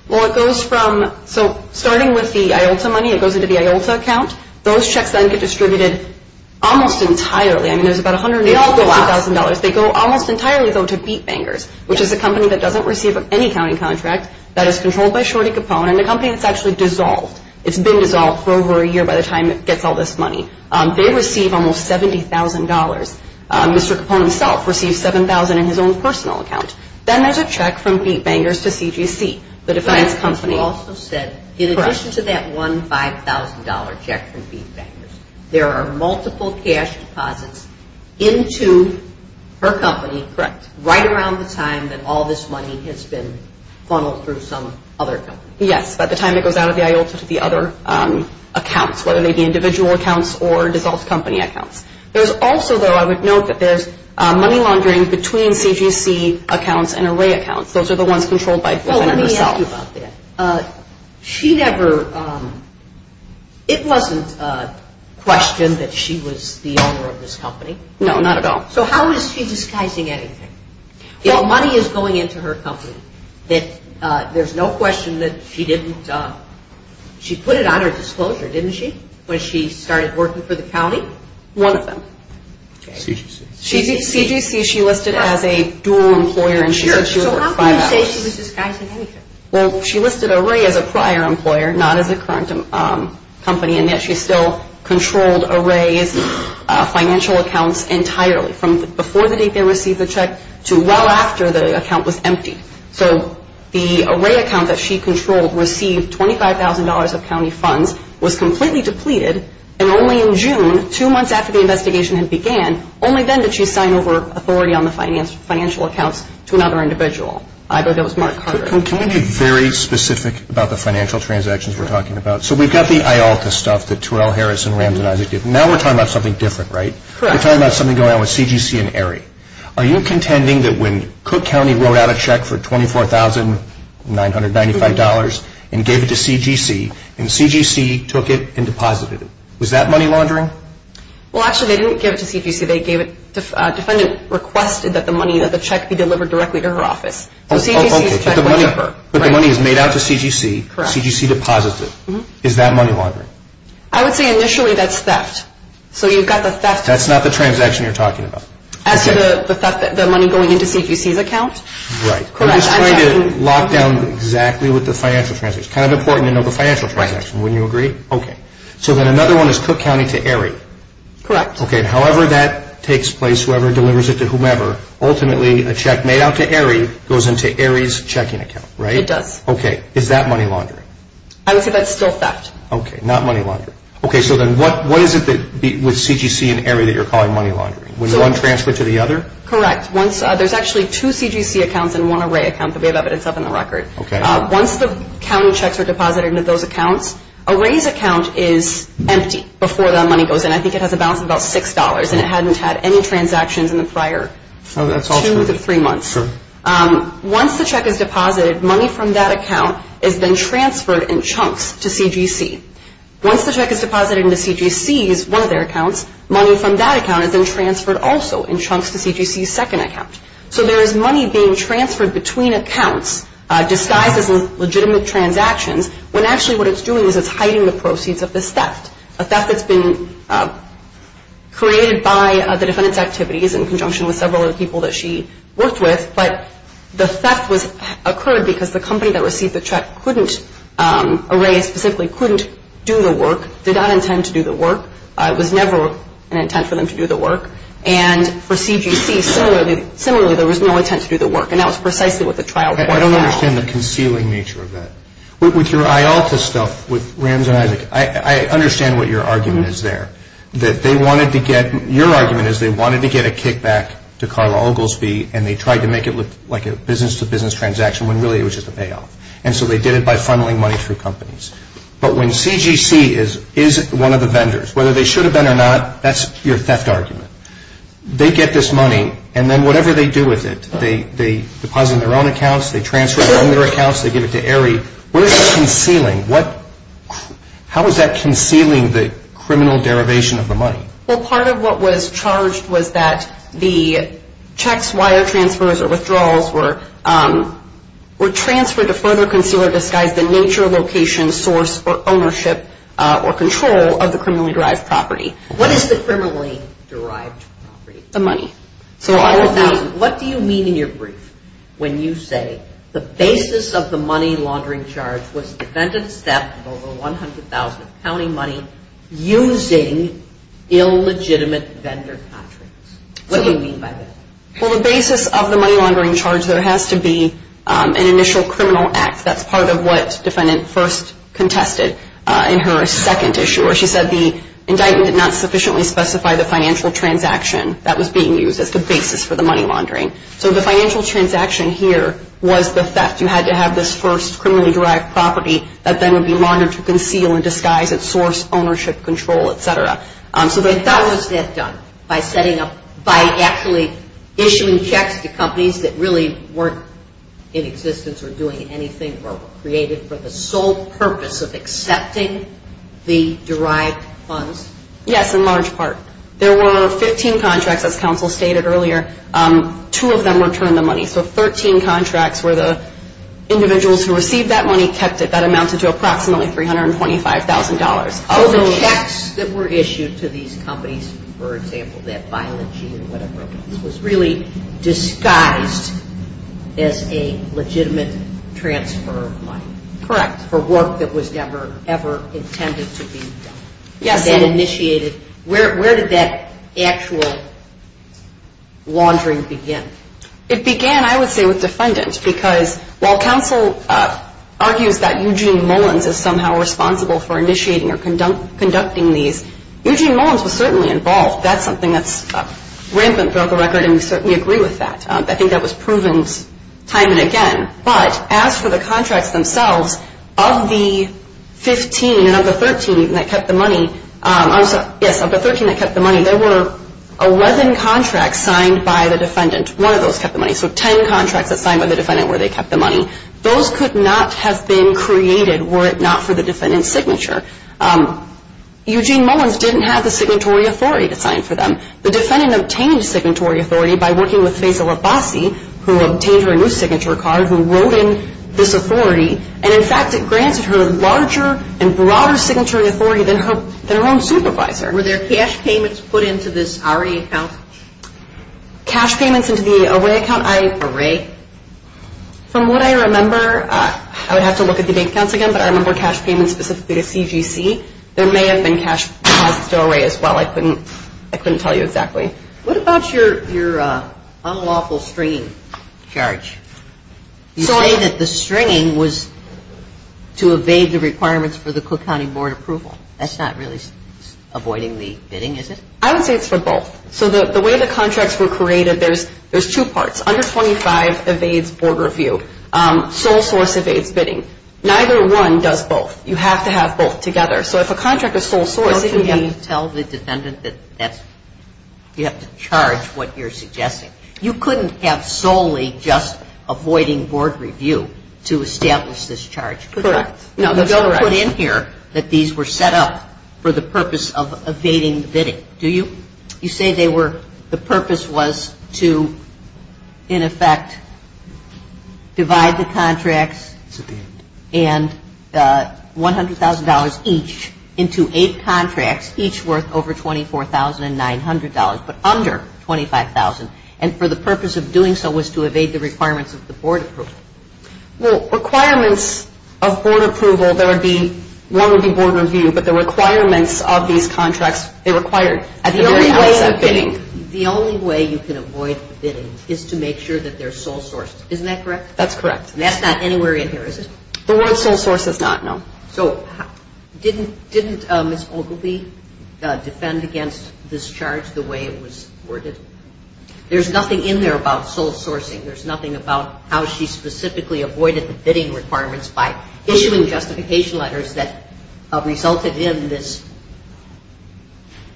Well, it goes from, so starting with the IOLTA money, it goes into the IOLTA account. Those checks then get distributed almost entirely. I mean, there's about $150,000. They all go out. They go almost entirely, though, to BeatBangers, which is a company that doesn't receive any accounting contract. That is controlled by Shorty Capone and a company that's actually dissolved. It's been dissolved for over a year by the time it gets all this money. They receive almost $70,000. Mr. Capone himself receives $7,000 in his own personal account. Then there's a check from BeatBangers to CGC, the defiance company. You also said in addition to that $1,000, $5,000 check from BeatBangers, there are multiple cash deposits into her company right around the time that all this money has been funneled through some other company. Yes, by the time it goes out of the IOLTA to the other accounts, whether they be individual accounts or dissolved company accounts. There's also, though, I would note that there's money laundering between CGC accounts and array accounts. Those are the ones controlled by Griffin herself. Well, let me ask you about that. She never – it wasn't questioned that she was the owner of this company. No, not at all. So how is she disguising anything? Well, money is going into her company. There's no question that she didn't – she put it on her disclosure, didn't she, when she started working for the county? One of them. CGC. CGC she listed as a dual employer. Sure. So how can you say she was disguising anything? Well, she listed Array as a prior employer, not as a current company, and yet she still controlled Array's financial accounts entirely from before the date they received the check to well after the account was emptied. So the Array account that she controlled received $25,000 of county funds, was completely depleted, and only in June, two months after the investigation had began, only then did she sign over authority on the financial accounts to another individual. Either that was Mark Carter. Can we be very specific about the financial transactions we're talking about? So we've got the IALTA stuff, the Terrell, Harris, and Rams, and Isaac. Now we're talking about something different, right? Correct. We're talking about something going on with CGC and Array. Are you contending that when Cook County wrote out a check for $24,995 and gave it to CGC, and CGC took it and deposited it, was that money laundering? Well, actually, they didn't give it to CGC. The defendant requested that the money of the check be delivered directly to her office. So CGC's check went to her. But the money is made out to CGC. Correct. CGC deposits it. Is that money laundering? I would say initially that's theft. So you've got the theft. That's not the transaction you're talking about. As to the money going into CGC's account? Right. Correct. I'm just trying to lock down exactly what the financial transaction is. It's kind of important to know the financial transaction. Wouldn't you agree? Okay. So then another one is Cook County to Array. Correct. Okay. However that takes place, whoever delivers it to whomever, ultimately a check made out to Array goes into Array's checking account, right? It does. Okay. Is that money laundering? I would say that's still theft. Okay. Not money laundering. Okay. So then what is it with CGC and Array that you're calling money laundering? When one transferred to the other? Correct. There's actually two CGC accounts and one Array account that we have evidence of in the record. Okay. Once the county checks are deposited into those accounts, Array's account is empty before that money goes in. I think it has a balance of about $6, and it hadn't had any transactions in the prior two to three months. Sure. Once the check is deposited, money from that account is then transferred in chunks to CGC. Once the check is deposited into CGC's, one of their accounts, money from that account is then transferred also in chunks to CGC's second account. So there is money being transferred between accounts disguised as legitimate transactions when actually what it's doing is it's hiding the proceeds of this theft, a theft that's been created by the defendant's activities in conjunction with several other people that she worked with. But the theft occurred because the company that received the check couldn't, Array specifically, couldn't do the work, did not intend to do the work. It was never an intent for them to do the work. And for CGC, similarly, there was no intent to do the work. And that was precisely what the trial court found. I don't understand the concealing nature of that. With your IALTA stuff, with Rams and Isaac, I understand what your argument is there, that they wanted to get, your argument is they wanted to get a kickback to Carla Oglesby, and they tried to make it look like a business-to-business transaction when really it was just a payoff. And so they did it by funneling money through companies. But when CGC is one of the vendors, whether they should have been or not, that's your theft argument. They get this money, and then whatever they do with it, they deposit in their own accounts, they transfer it on their accounts, they give it to Array. What is that concealing? How is that concealing the criminal derivation of the money? Well, part of what was charged was that the checks, wire transfers, or withdrawals were transferred to further conceal or disguise the nature, location, source, or ownership or control of the criminally-derived property. What is the criminally-derived property? The money. What do you mean in your brief when you say the basis of the money laundering charge was the defendant's theft of over 100,000 of county money using illegitimate vendor contracts? What do you mean by that? Well, the basis of the money laundering charge, there has to be an initial criminal act. That's part of what defendant first contested in her second issue, where she said the indictment did not sufficiently specify the financial transaction that was being used as the basis for the money laundering. So the financial transaction here was the theft. You had to have this first criminally-derived property that then would be laundered to conceal and disguise its source, ownership, control, et cetera. So what was that done? By actually issuing checks to companies that really weren't in existence or doing anything or were created for the sole purpose of accepting the derived funds? Yes, in large part. There were 15 contracts, as counsel stated earlier. Two of them returned the money. So 13 contracts where the individuals who received that money kept it. That amounted to approximately $325,000. So the checks that were issued to these companies, for example, that Biology and whatever, was really disguised as a legitimate transfer of money? Correct. For work that was never, ever intended to be done? Yes. Where did that actual laundering begin? It began, I would say, with defendants, because while counsel argues that Eugene Mullins is somehow responsible for initiating or conducting these, Eugene Mullins was certainly involved. That's something that's rampant throughout the record, and we certainly agree with that. I think that was proven time and again. But as for the contracts themselves, of the 15 and of the 13 that kept the money, there were 11 contracts signed by the defendant. One of those kept the money. So 10 contracts that signed by the defendant where they kept the money. Those could not have been created were it not for the defendant's signature. Eugene Mullins didn't have the signatory authority to sign for them. The defendant obtained signatory authority by working with Faisal Abbasi, who obtained her new signature card, who wrote in this authority. And, in fact, it granted her larger and broader signatory authority than her own supervisor. Were there cash payments put into this RA account? Cash payments into the RA account? RA. From what I remember, I would have to look at the bank accounts again, but I remember cash payments specifically to CGC. There may have been cash deposits to RA as well. I couldn't tell you exactly. What about your unlawful stringing charge? You say that the stringing was to evade the requirements for the Cook County Board approval. That's not really avoiding the bidding, is it? I would say it's for both. So the way the contracts were created, there's two parts. Under 25 evades board review. Sole source evades bidding. Neither one does both. You have to have both together. So if a contract is sole source, it can be – Don't you have to tell the defendant that you have to charge what you're suggesting? You couldn't have solely just avoiding board review to establish this charge. Correct. No, you don't put in here that these were set up for the purpose of evading bidding, do you? You say they were – the purpose was to, in effect, divide the contracts and $100,000 each into eight contracts, each worth over $24,900, but under $25,000, and for the purpose of doing so was to evade the requirements of the board approval. Well, requirements of board approval, there would be – one would be board review, but the requirements of these contracts, they required at the very highest of bidding. The only way you can avoid bidding is to make sure that they're sole sourced. Isn't that correct? That's correct. And that's not anywhere in here, is it? The word sole source is not, no. So didn't Ms. Ogilvie defend against this charge the way it was worded? There's nothing in there about sole sourcing. There's nothing about how she specifically avoided the bidding requirements by issuing justification letters that resulted in this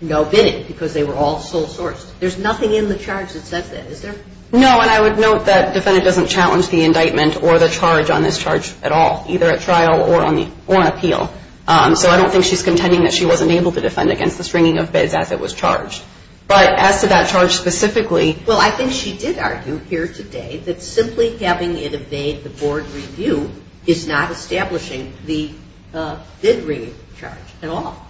no bidding because they were all sole sourced. There's nothing in the charge that says that, is there? No, and I would note that the defendant doesn't challenge the indictment or the charge on this charge at all, either at trial or on appeal. So I don't think she's contending that she wasn't able to defend against the stringing of bids as it was charged. But as to that charge specifically – Well, I think she did argue here today that simply having it evade the board review is not establishing the bid-ringing charge at all.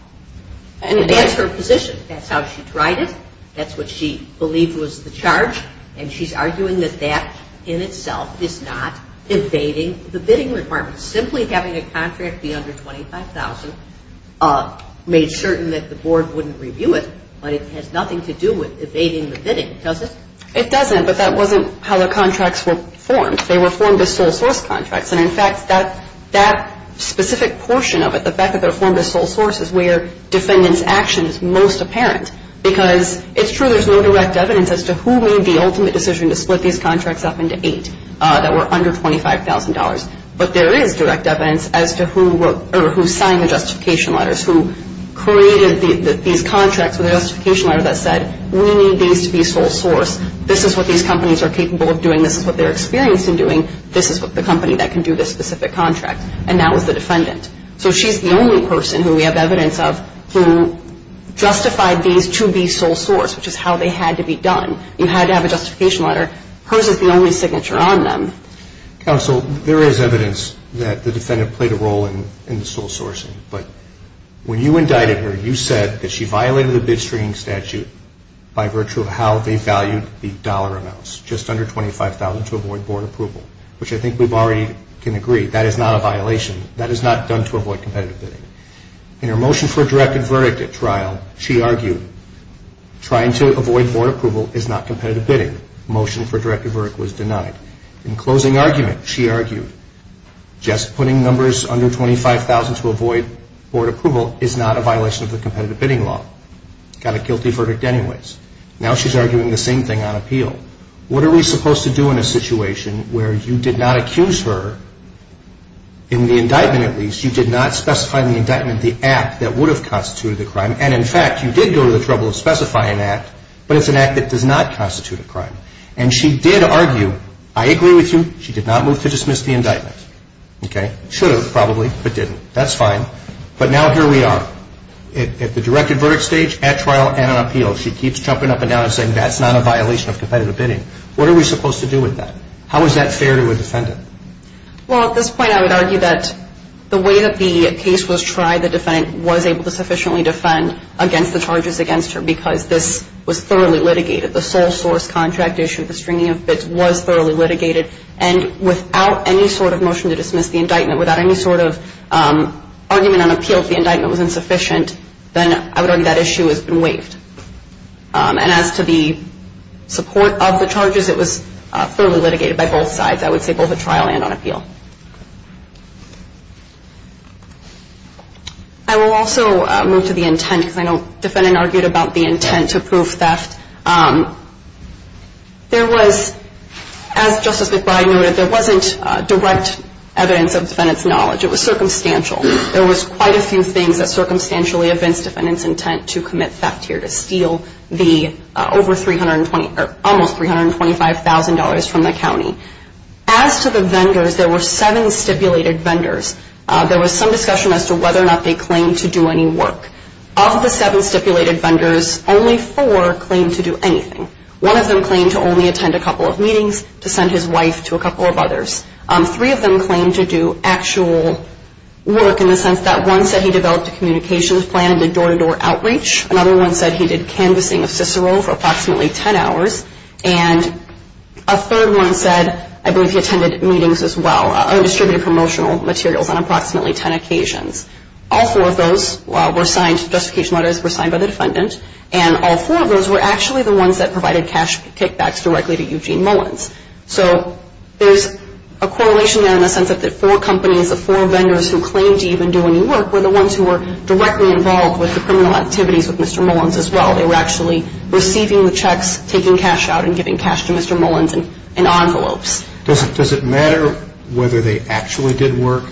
And that's her position. That's how she tried it. That's what she believed was the charge, and she's arguing that that in itself is not evading the bidding requirements. Simply having a contract be under $25,000 made certain that the board wouldn't review it, but it has nothing to do with evading the bidding, does it? It doesn't, but that wasn't how the contracts were formed. They were formed as sole source contracts. And, in fact, that specific portion of it, the fact that they were formed as sole source is where defendant's action is most apparent because it's true there's no direct evidence as to who made the ultimate decision to split these contracts up into eight that were under $25,000. But there is direct evidence as to who signed the justification letters, who created these contracts with a justification letter that said, we need these to be sole source. This is what these companies are capable of doing. This is what they're experienced in doing. This is what the company that can do this specific contract. And that was the defendant. So she's the only person who we have evidence of who justified these to be sole source, which is how they had to be done. You had to have a justification letter. Hers is the only signature on them. Counsel, there is evidence that the defendant played a role in the sole sourcing, but when you indicted her, you said that she violated the bid stringing statute by virtue of how they valued the dollar amounts, just under $25,000 to avoid board approval, which I think we already can agree that is not a violation. That is not done to avoid competitive bidding. In her motion for a directed verdict at trial, she argued trying to avoid board approval is not competitive bidding. Motion for a directed verdict was denied. In closing argument, she argued just putting numbers under $25,000 to avoid board approval is not a violation of the competitive bidding law. Got a guilty verdict anyways. Now she's arguing the same thing on appeal. What are we supposed to do in a situation where you did not accuse her, in the indictment at least, you did not specify in the indictment the act that would have constituted the crime, and in fact, you did go to the trouble of specifying an act, but it's an act that does not constitute a crime. And she did argue, I agree with you, she did not move to dismiss the indictment. Okay? Should have probably, but didn't. That's fine. But now here we are. At the directed verdict stage, at trial, and on appeal, she keeps jumping up and down and saying that's not a violation of competitive bidding. What are we supposed to do with that? How is that fair to a defendant? Well, at this point, I would argue that the way that the case was tried, the defendant was able to sufficiently defend against the charges against her because this was thoroughly litigated. The sole source contract issue, the stringing of bids, was thoroughly litigated. And without any sort of motion to dismiss the indictment, without any sort of argument on appeal if the indictment was insufficient, then I would argue that issue has been waived. And as to the support of the charges, it was thoroughly litigated by both sides, I would say both at trial and on appeal. I will also move to the intent, because I know the defendant argued about the intent to prove theft. There was, as Justice McBride noted, there wasn't direct evidence of defendant's knowledge. It was circumstantial. There was quite a few things that circumstantially evince defendant's intent to commit theft here, to steal the over $325,000 from the county. As to the vendors, there were seven stipulated vendors. There was some discussion as to whether or not they claimed to do any work. Of the seven stipulated vendors, only four claimed to do anything. One of them claimed to only attend a couple of meetings, to send his wife to a couple of others. Three of them claimed to do actual work in the sense that one said he developed a communications plan and did door-to-door outreach. Another one said he did canvassing of Cicero for approximately 10 hours. And a third one said I believe he attended meetings as well, or distributed promotional materials on approximately 10 occasions. All four of those were signed, justification letters were signed by the defendant, and all four of those were actually the ones that provided cash kickbacks directly to Eugene Mullins. So there's a correlation there in the sense that the four companies, the four vendors who claimed to even do any work, were the ones who were directly involved with the criminal activities with Mr. Mullins as well. They were actually receiving the checks, taking cash out, and giving cash to Mr. Mullins in envelopes. Does it matter whether they actually did work?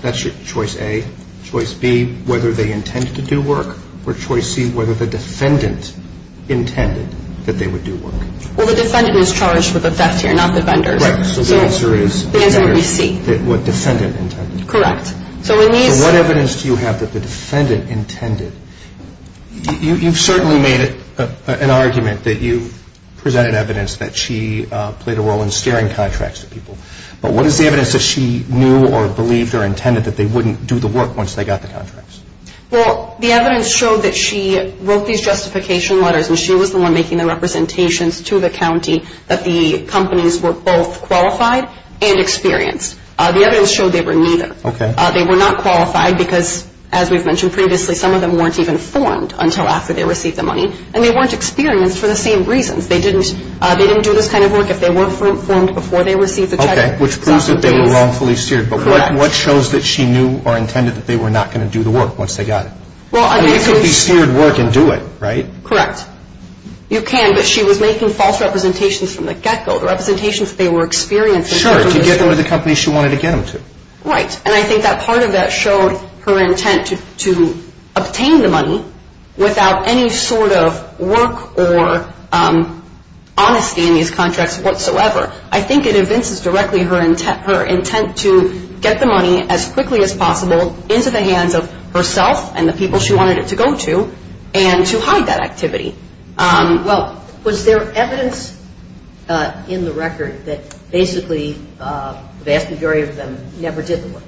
That's your choice A. Choice B, whether they intended to do work. Or choice C, whether the defendant intended that they would do work. Well, the defendant is charged with a theft here, not the vendors. Right. So the answer is? The answer would be C. What defendant intended. Correct. So what evidence do you have that the defendant intended? You've certainly made an argument that you presented evidence that she played a role in steering contracts to people. But what is the evidence that she knew or believed or intended that they wouldn't do the work once they got the contracts? Well, the evidence showed that she wrote these justification letters and she was the one making the representations to the county that the companies were both qualified and experienced. The evidence showed they were neither. Okay. They were not qualified because, as we've mentioned previously, some of them weren't even formed until after they received the money, and they weren't experienced for the same reasons. They didn't do this kind of work if they weren't formed before they received the check. Okay. Which proves that they were wrongfully steered. Correct. But what shows that she knew or intended that they were not going to do the work once they got it? Well, I mean, it could be steered work and do it, right? Correct. You can, but she was making false representations from the get-go, representations that they were experienced. Sure, to get them to the companies she wanted to get them to. Right. And I think that part of that showed her intent to obtain the money without any sort of work or honesty in these contracts whatsoever. I think it evinces directly her intent to get the money as quickly as possible into the hands of herself and the people she wanted it to go to and to hide that activity. Well, was there evidence in the record that basically the vast majority of them never did the work?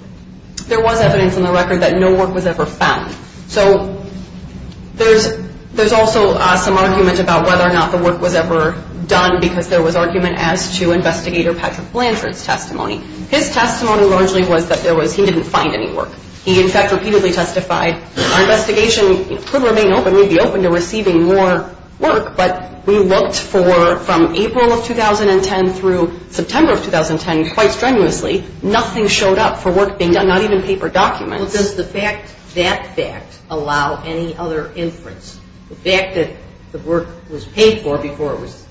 There was evidence in the record that no work was ever found. So there's also some argument about whether or not the work was ever done because there was argument as to Investigator Patrick Blanchard's testimony. His testimony largely was that he didn't find any work. He, in fact, repeatedly testified, our investigation could remain open, we'd be open to receiving more work, but we looked for, from April of 2010 through September of 2010, quite strenuously, nothing showed up for work being done, not even paper documents. Well, does the fact that fact allow any other inference? The fact that the work was paid for before it was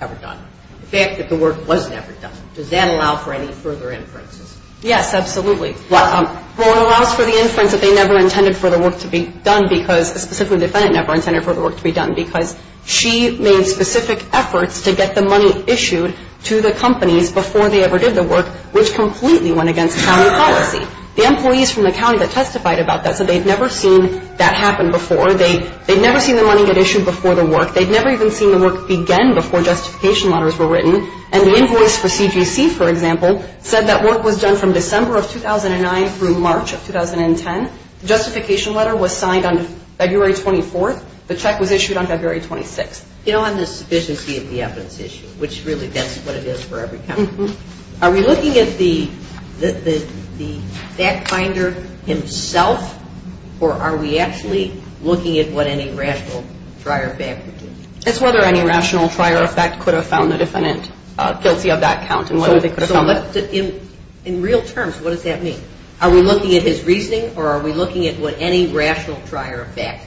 ever done. The fact that the work was never done. Does that allow for any further inferences? Yes, absolutely. Well, it allows for the inference that they never intended for the work to be done because specifically the defendant never intended for the work to be done because she made specific efforts to get the money issued to the companies before they ever did the work, which completely went against county policy. The employees from the county that testified about that said they'd never seen that happen before. They'd never seen the money get issued before the work. And the invoice for CGC, for example, said that work was done from December of 2009 through March of 2010. The justification letter was signed on February 24th. The check was issued on February 26th. You don't have the sufficiency of the evidence issued, which really that's what it is for every county. Are we looking at the fact finder himself or are we actually looking at what any rational trier fact would do? It's whether any rational trier fact could have found the defendant guilty of that count. In real terms, what does that mean? Are we looking at his reasoning or are we looking at what any rational trier fact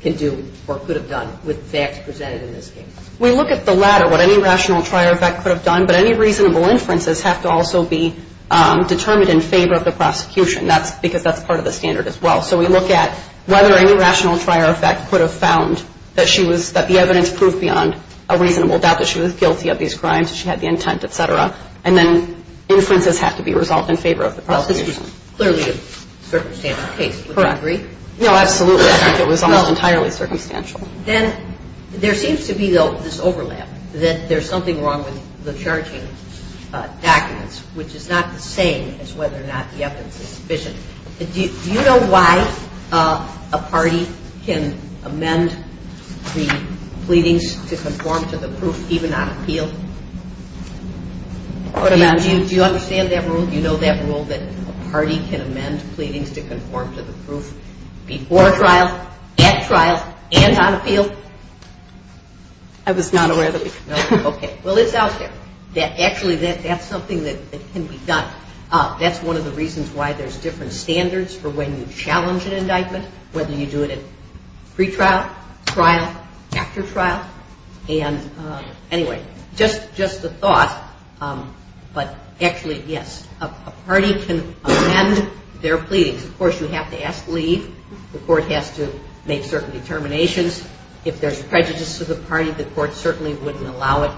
can do or could have done with facts presented in this case? We look at the latter, what any rational trier fact could have done, but any reasonable inferences have to also be determined in favor of the prosecution because that's part of the standard as well. So we look at whether any rational trier fact could have found that the evidence proved beyond a reasonable doubt that she was guilty of these crimes, that she had the intent, et cetera, and then inferences have to be resolved in favor of the prosecution. Well, this was clearly a circumstantial case, would you agree? No, absolutely. I think it was almost entirely circumstantial. Then there seems to be, though, this overlap, that there's something wrong with the charging documents, which is not the same as whether or not the evidence is sufficient. Do you know why a party can amend the pleadings to conform to the proof even on appeal? Do you understand that rule? Do you know that rule that a party can amend pleadings to conform to the proof before trial, at trial, and on appeal? I was not aware that we could. Okay. Well, it's out there. Actually, that's something that can be done. That's one of the reasons why there's different standards for when you challenge an indictment, whether you do it at pretrial, trial, after trial. And anyway, just a thought, but actually, yes, a party can amend their pleadings. Of course, you have to ask leave. The court has to make certain determinations. If there's prejudice to the party, the court certainly wouldn't allow it.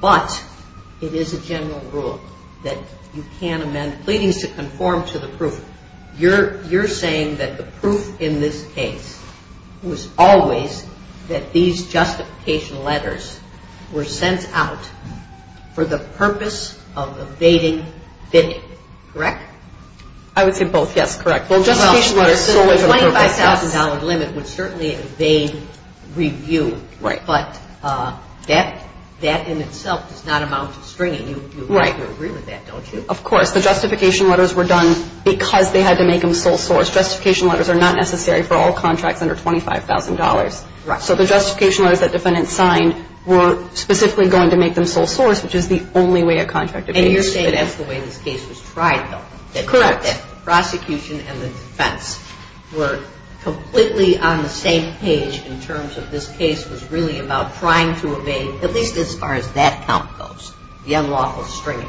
But it is a general rule that you can amend pleadings to conform to the proof. You're saying that the proof in this case was always that these justification letters were sent out for the purpose of evading bidding. Correct? I would say both, yes. Correct. The $25,000 limit would certainly evade review. Right. But that in itself does not amount to stringing. Right. You agree with that, don't you? Of course. The justification letters were done because they had to make them sole source. Justification letters are not necessary for all contracts under $25,000. Right. So the justification letters that defendants signed were specifically going to make them sole source, which is the only way a contract evades bidding. And you're saying that's the way this case was tried, though. Correct. That the prosecution and the defense were completely on the same page in terms of this case was really about trying to evade, at least as far as that count goes, the unlawful stringing.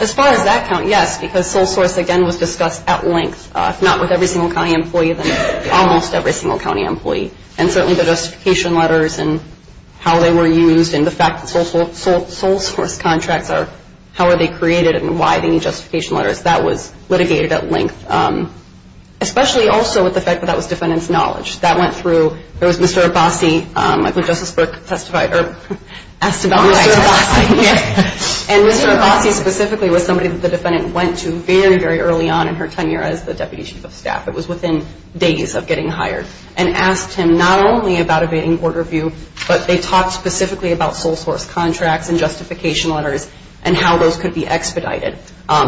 As far as that count, yes, because sole source, again, was discussed at length, if not with every single county employee, then almost every single county employee. And certainly the justification letters and how they were used and the fact that sole source contracts are, how are they created and why they need justification letters, that was litigated at length, especially also with the fact that that was defendant's knowledge. That went through, there was Mr. Abbasi, I believe Justice Burke testified or asked about Mr. Abbasi. And Mr. Abbasi specifically was somebody that the defendant went to very, very early on in her tenure as the deputy chief of staff. It was within days of getting hired. And asked him not only about evading board review, but they talked specifically about sole source contracts and justification letters and how those could be expedited.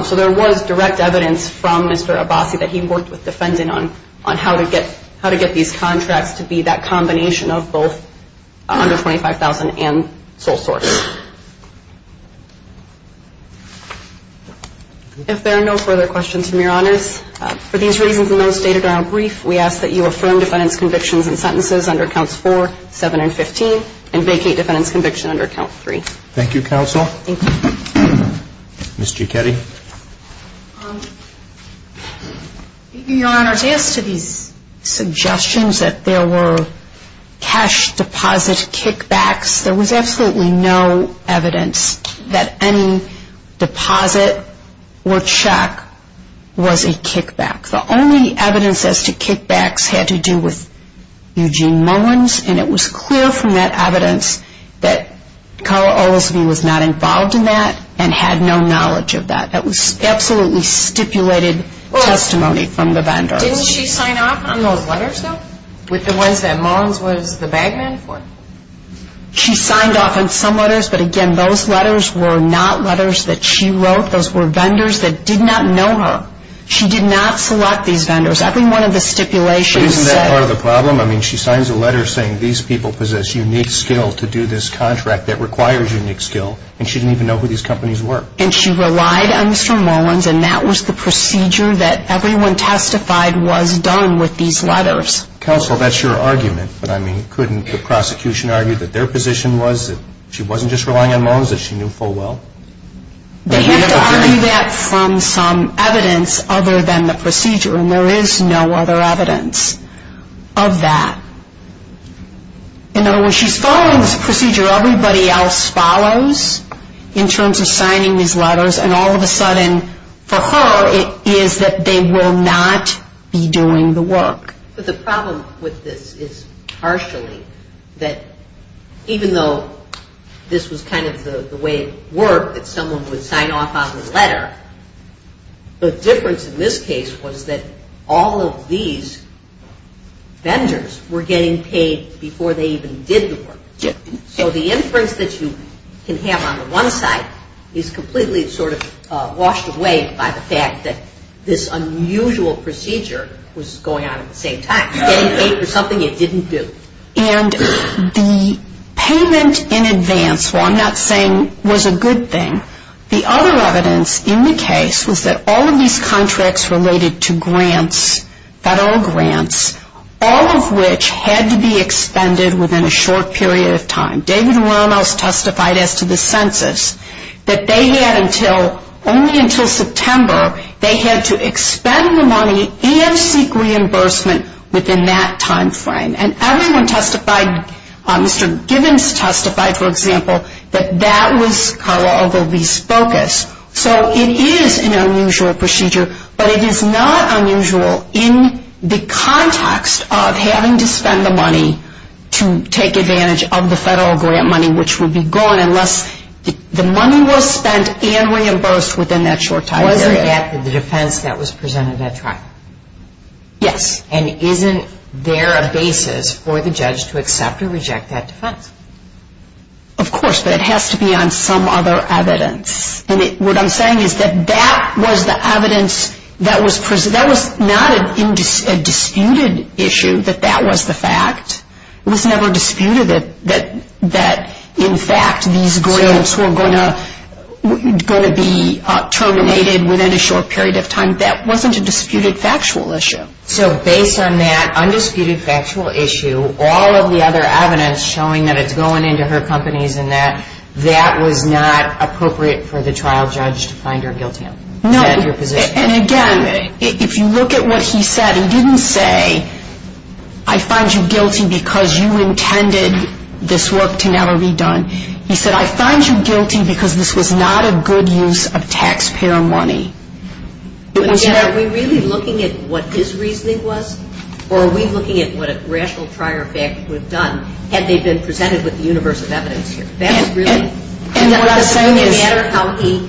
So there was direct evidence from Mr. Abbasi that he worked with the defendant on how to get these contracts to be that combination of both $125,000 and sole source. If there are no further questions from your honors, for these reasons and those stated in our brief, we ask that you affirm defendant's convictions and sentences under counts four, seven, and 15. And vacate defendant's conviction under count three. Thank you, counsel. Thank you. Ms. Gichetti. Your honors, as to these suggestions that there were cash deposit kickbacks, there was absolutely no evidence that any deposit or check was a kickback. The only evidence as to kickbacks had to do with Eugene Mullins, and it was clear from that evidence that Carl Olesby was not involved in that and had no knowledge of that. That was absolutely stipulated testimony from the vendor. Didn't she sign off on those letters, though, with the ones that Mullins was the bag man for? She signed off on some letters, but again, those letters were not letters that she wrote. Those were vendors that did not know her. She did not select these vendors. Every one of the stipulations said. But isn't that part of the problem? I mean, she signs a letter saying, these people possess unique skill to do this contract that requires unique skill, and she didn't even know who these companies were. And she relied on Mr. Mullins, and that was the procedure that everyone testified was done with these letters. Counsel, that's your argument, but I mean, couldn't the prosecution argue that their position was that she wasn't just relying on Mullins, that she knew full well? They have to argue that from some evidence other than the procedure, and there is no other evidence of that. In other words, she's following this procedure everybody else follows in terms of signing these letters, and all of a sudden, for her, it is that they will not be doing the work. But the problem with this is, partially, that even though this was kind of the way it worked, that someone would sign off on the letter, the difference in this case was that all of these vendors were getting paid before they even did the work. So the inference that you can have on the one side is completely sort of washed away by the fact that this unusual procedure was going on at the same time. Getting paid for something it didn't do. And the payment in advance, while I'm not saying was a good thing, the other evidence in the case was that all of these contracts related to grants, federal grants, all of which had to be expended within a short period of time. David Ramos testified as to the census, that they had until, only until September, they had to expend the money and seek reimbursement within that time frame. And everyone testified, Mr. Gibbons testified, for example, that that was Carla Ogilvie's focus. So it is an unusual procedure, but it is not unusual in the context of having to spend the money to take advantage of the federal grant money, which would be gone unless the money was spent and reimbursed within that short time. Wasn't that the defense that was presented at trial? Yes. And isn't there a basis for the judge to accept or reject that defense? Of course, but it has to be on some other evidence. And what I'm saying is that that was the evidence that was presented. That was not a disputed issue, that that was the fact. It was never disputed that, in fact, these grants were going to be terminated within a short period of time. That wasn't a disputed factual issue. So based on that undisputed factual issue, all of the other evidence showing that it's going into her companies and that that was not appropriate for the trial judge to find her guilty of? No. And again, if you look at what he said, he didn't say, I find you guilty because you intended this work to never be done. He said, I find you guilty because this was not a good use of taxpayer money. But again, are we really looking at what his reasoning was, or are we looking at what a rational trial judge would have done had they been presented with the universe of evidence here? Does it really matter how he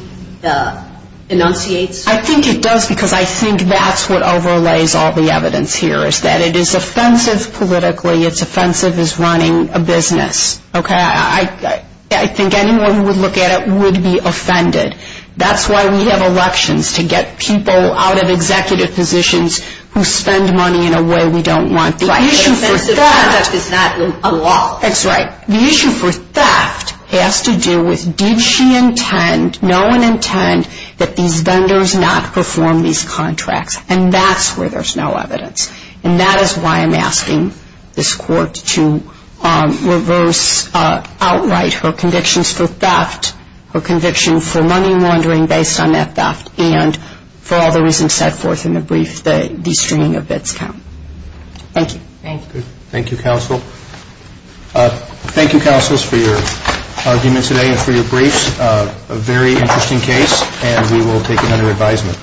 enunciates? I think it does, because I think that's what overlays all the evidence here, is that it is offensive politically. It's offensive as running a business. I think anyone who would look at it would be offended. That's why we have elections, to get people out of executive positions who spend money in a way we don't want. But offensive conduct is not a law. That's right. The issue for theft has to do with did she intend, no one intend that these vendors not perform these contracts, and that's where there's no evidence. And that is why I'm asking this court to reverse outright her convictions for theft, her conviction for money laundering based on that theft, and for all the reasons set forth in the brief, the stringing of bits count. Thank you. Thank you. Thank you, counsel. Thank you, counsels, for your argument today and for your briefs. A very interesting case, and we will take it under advisement.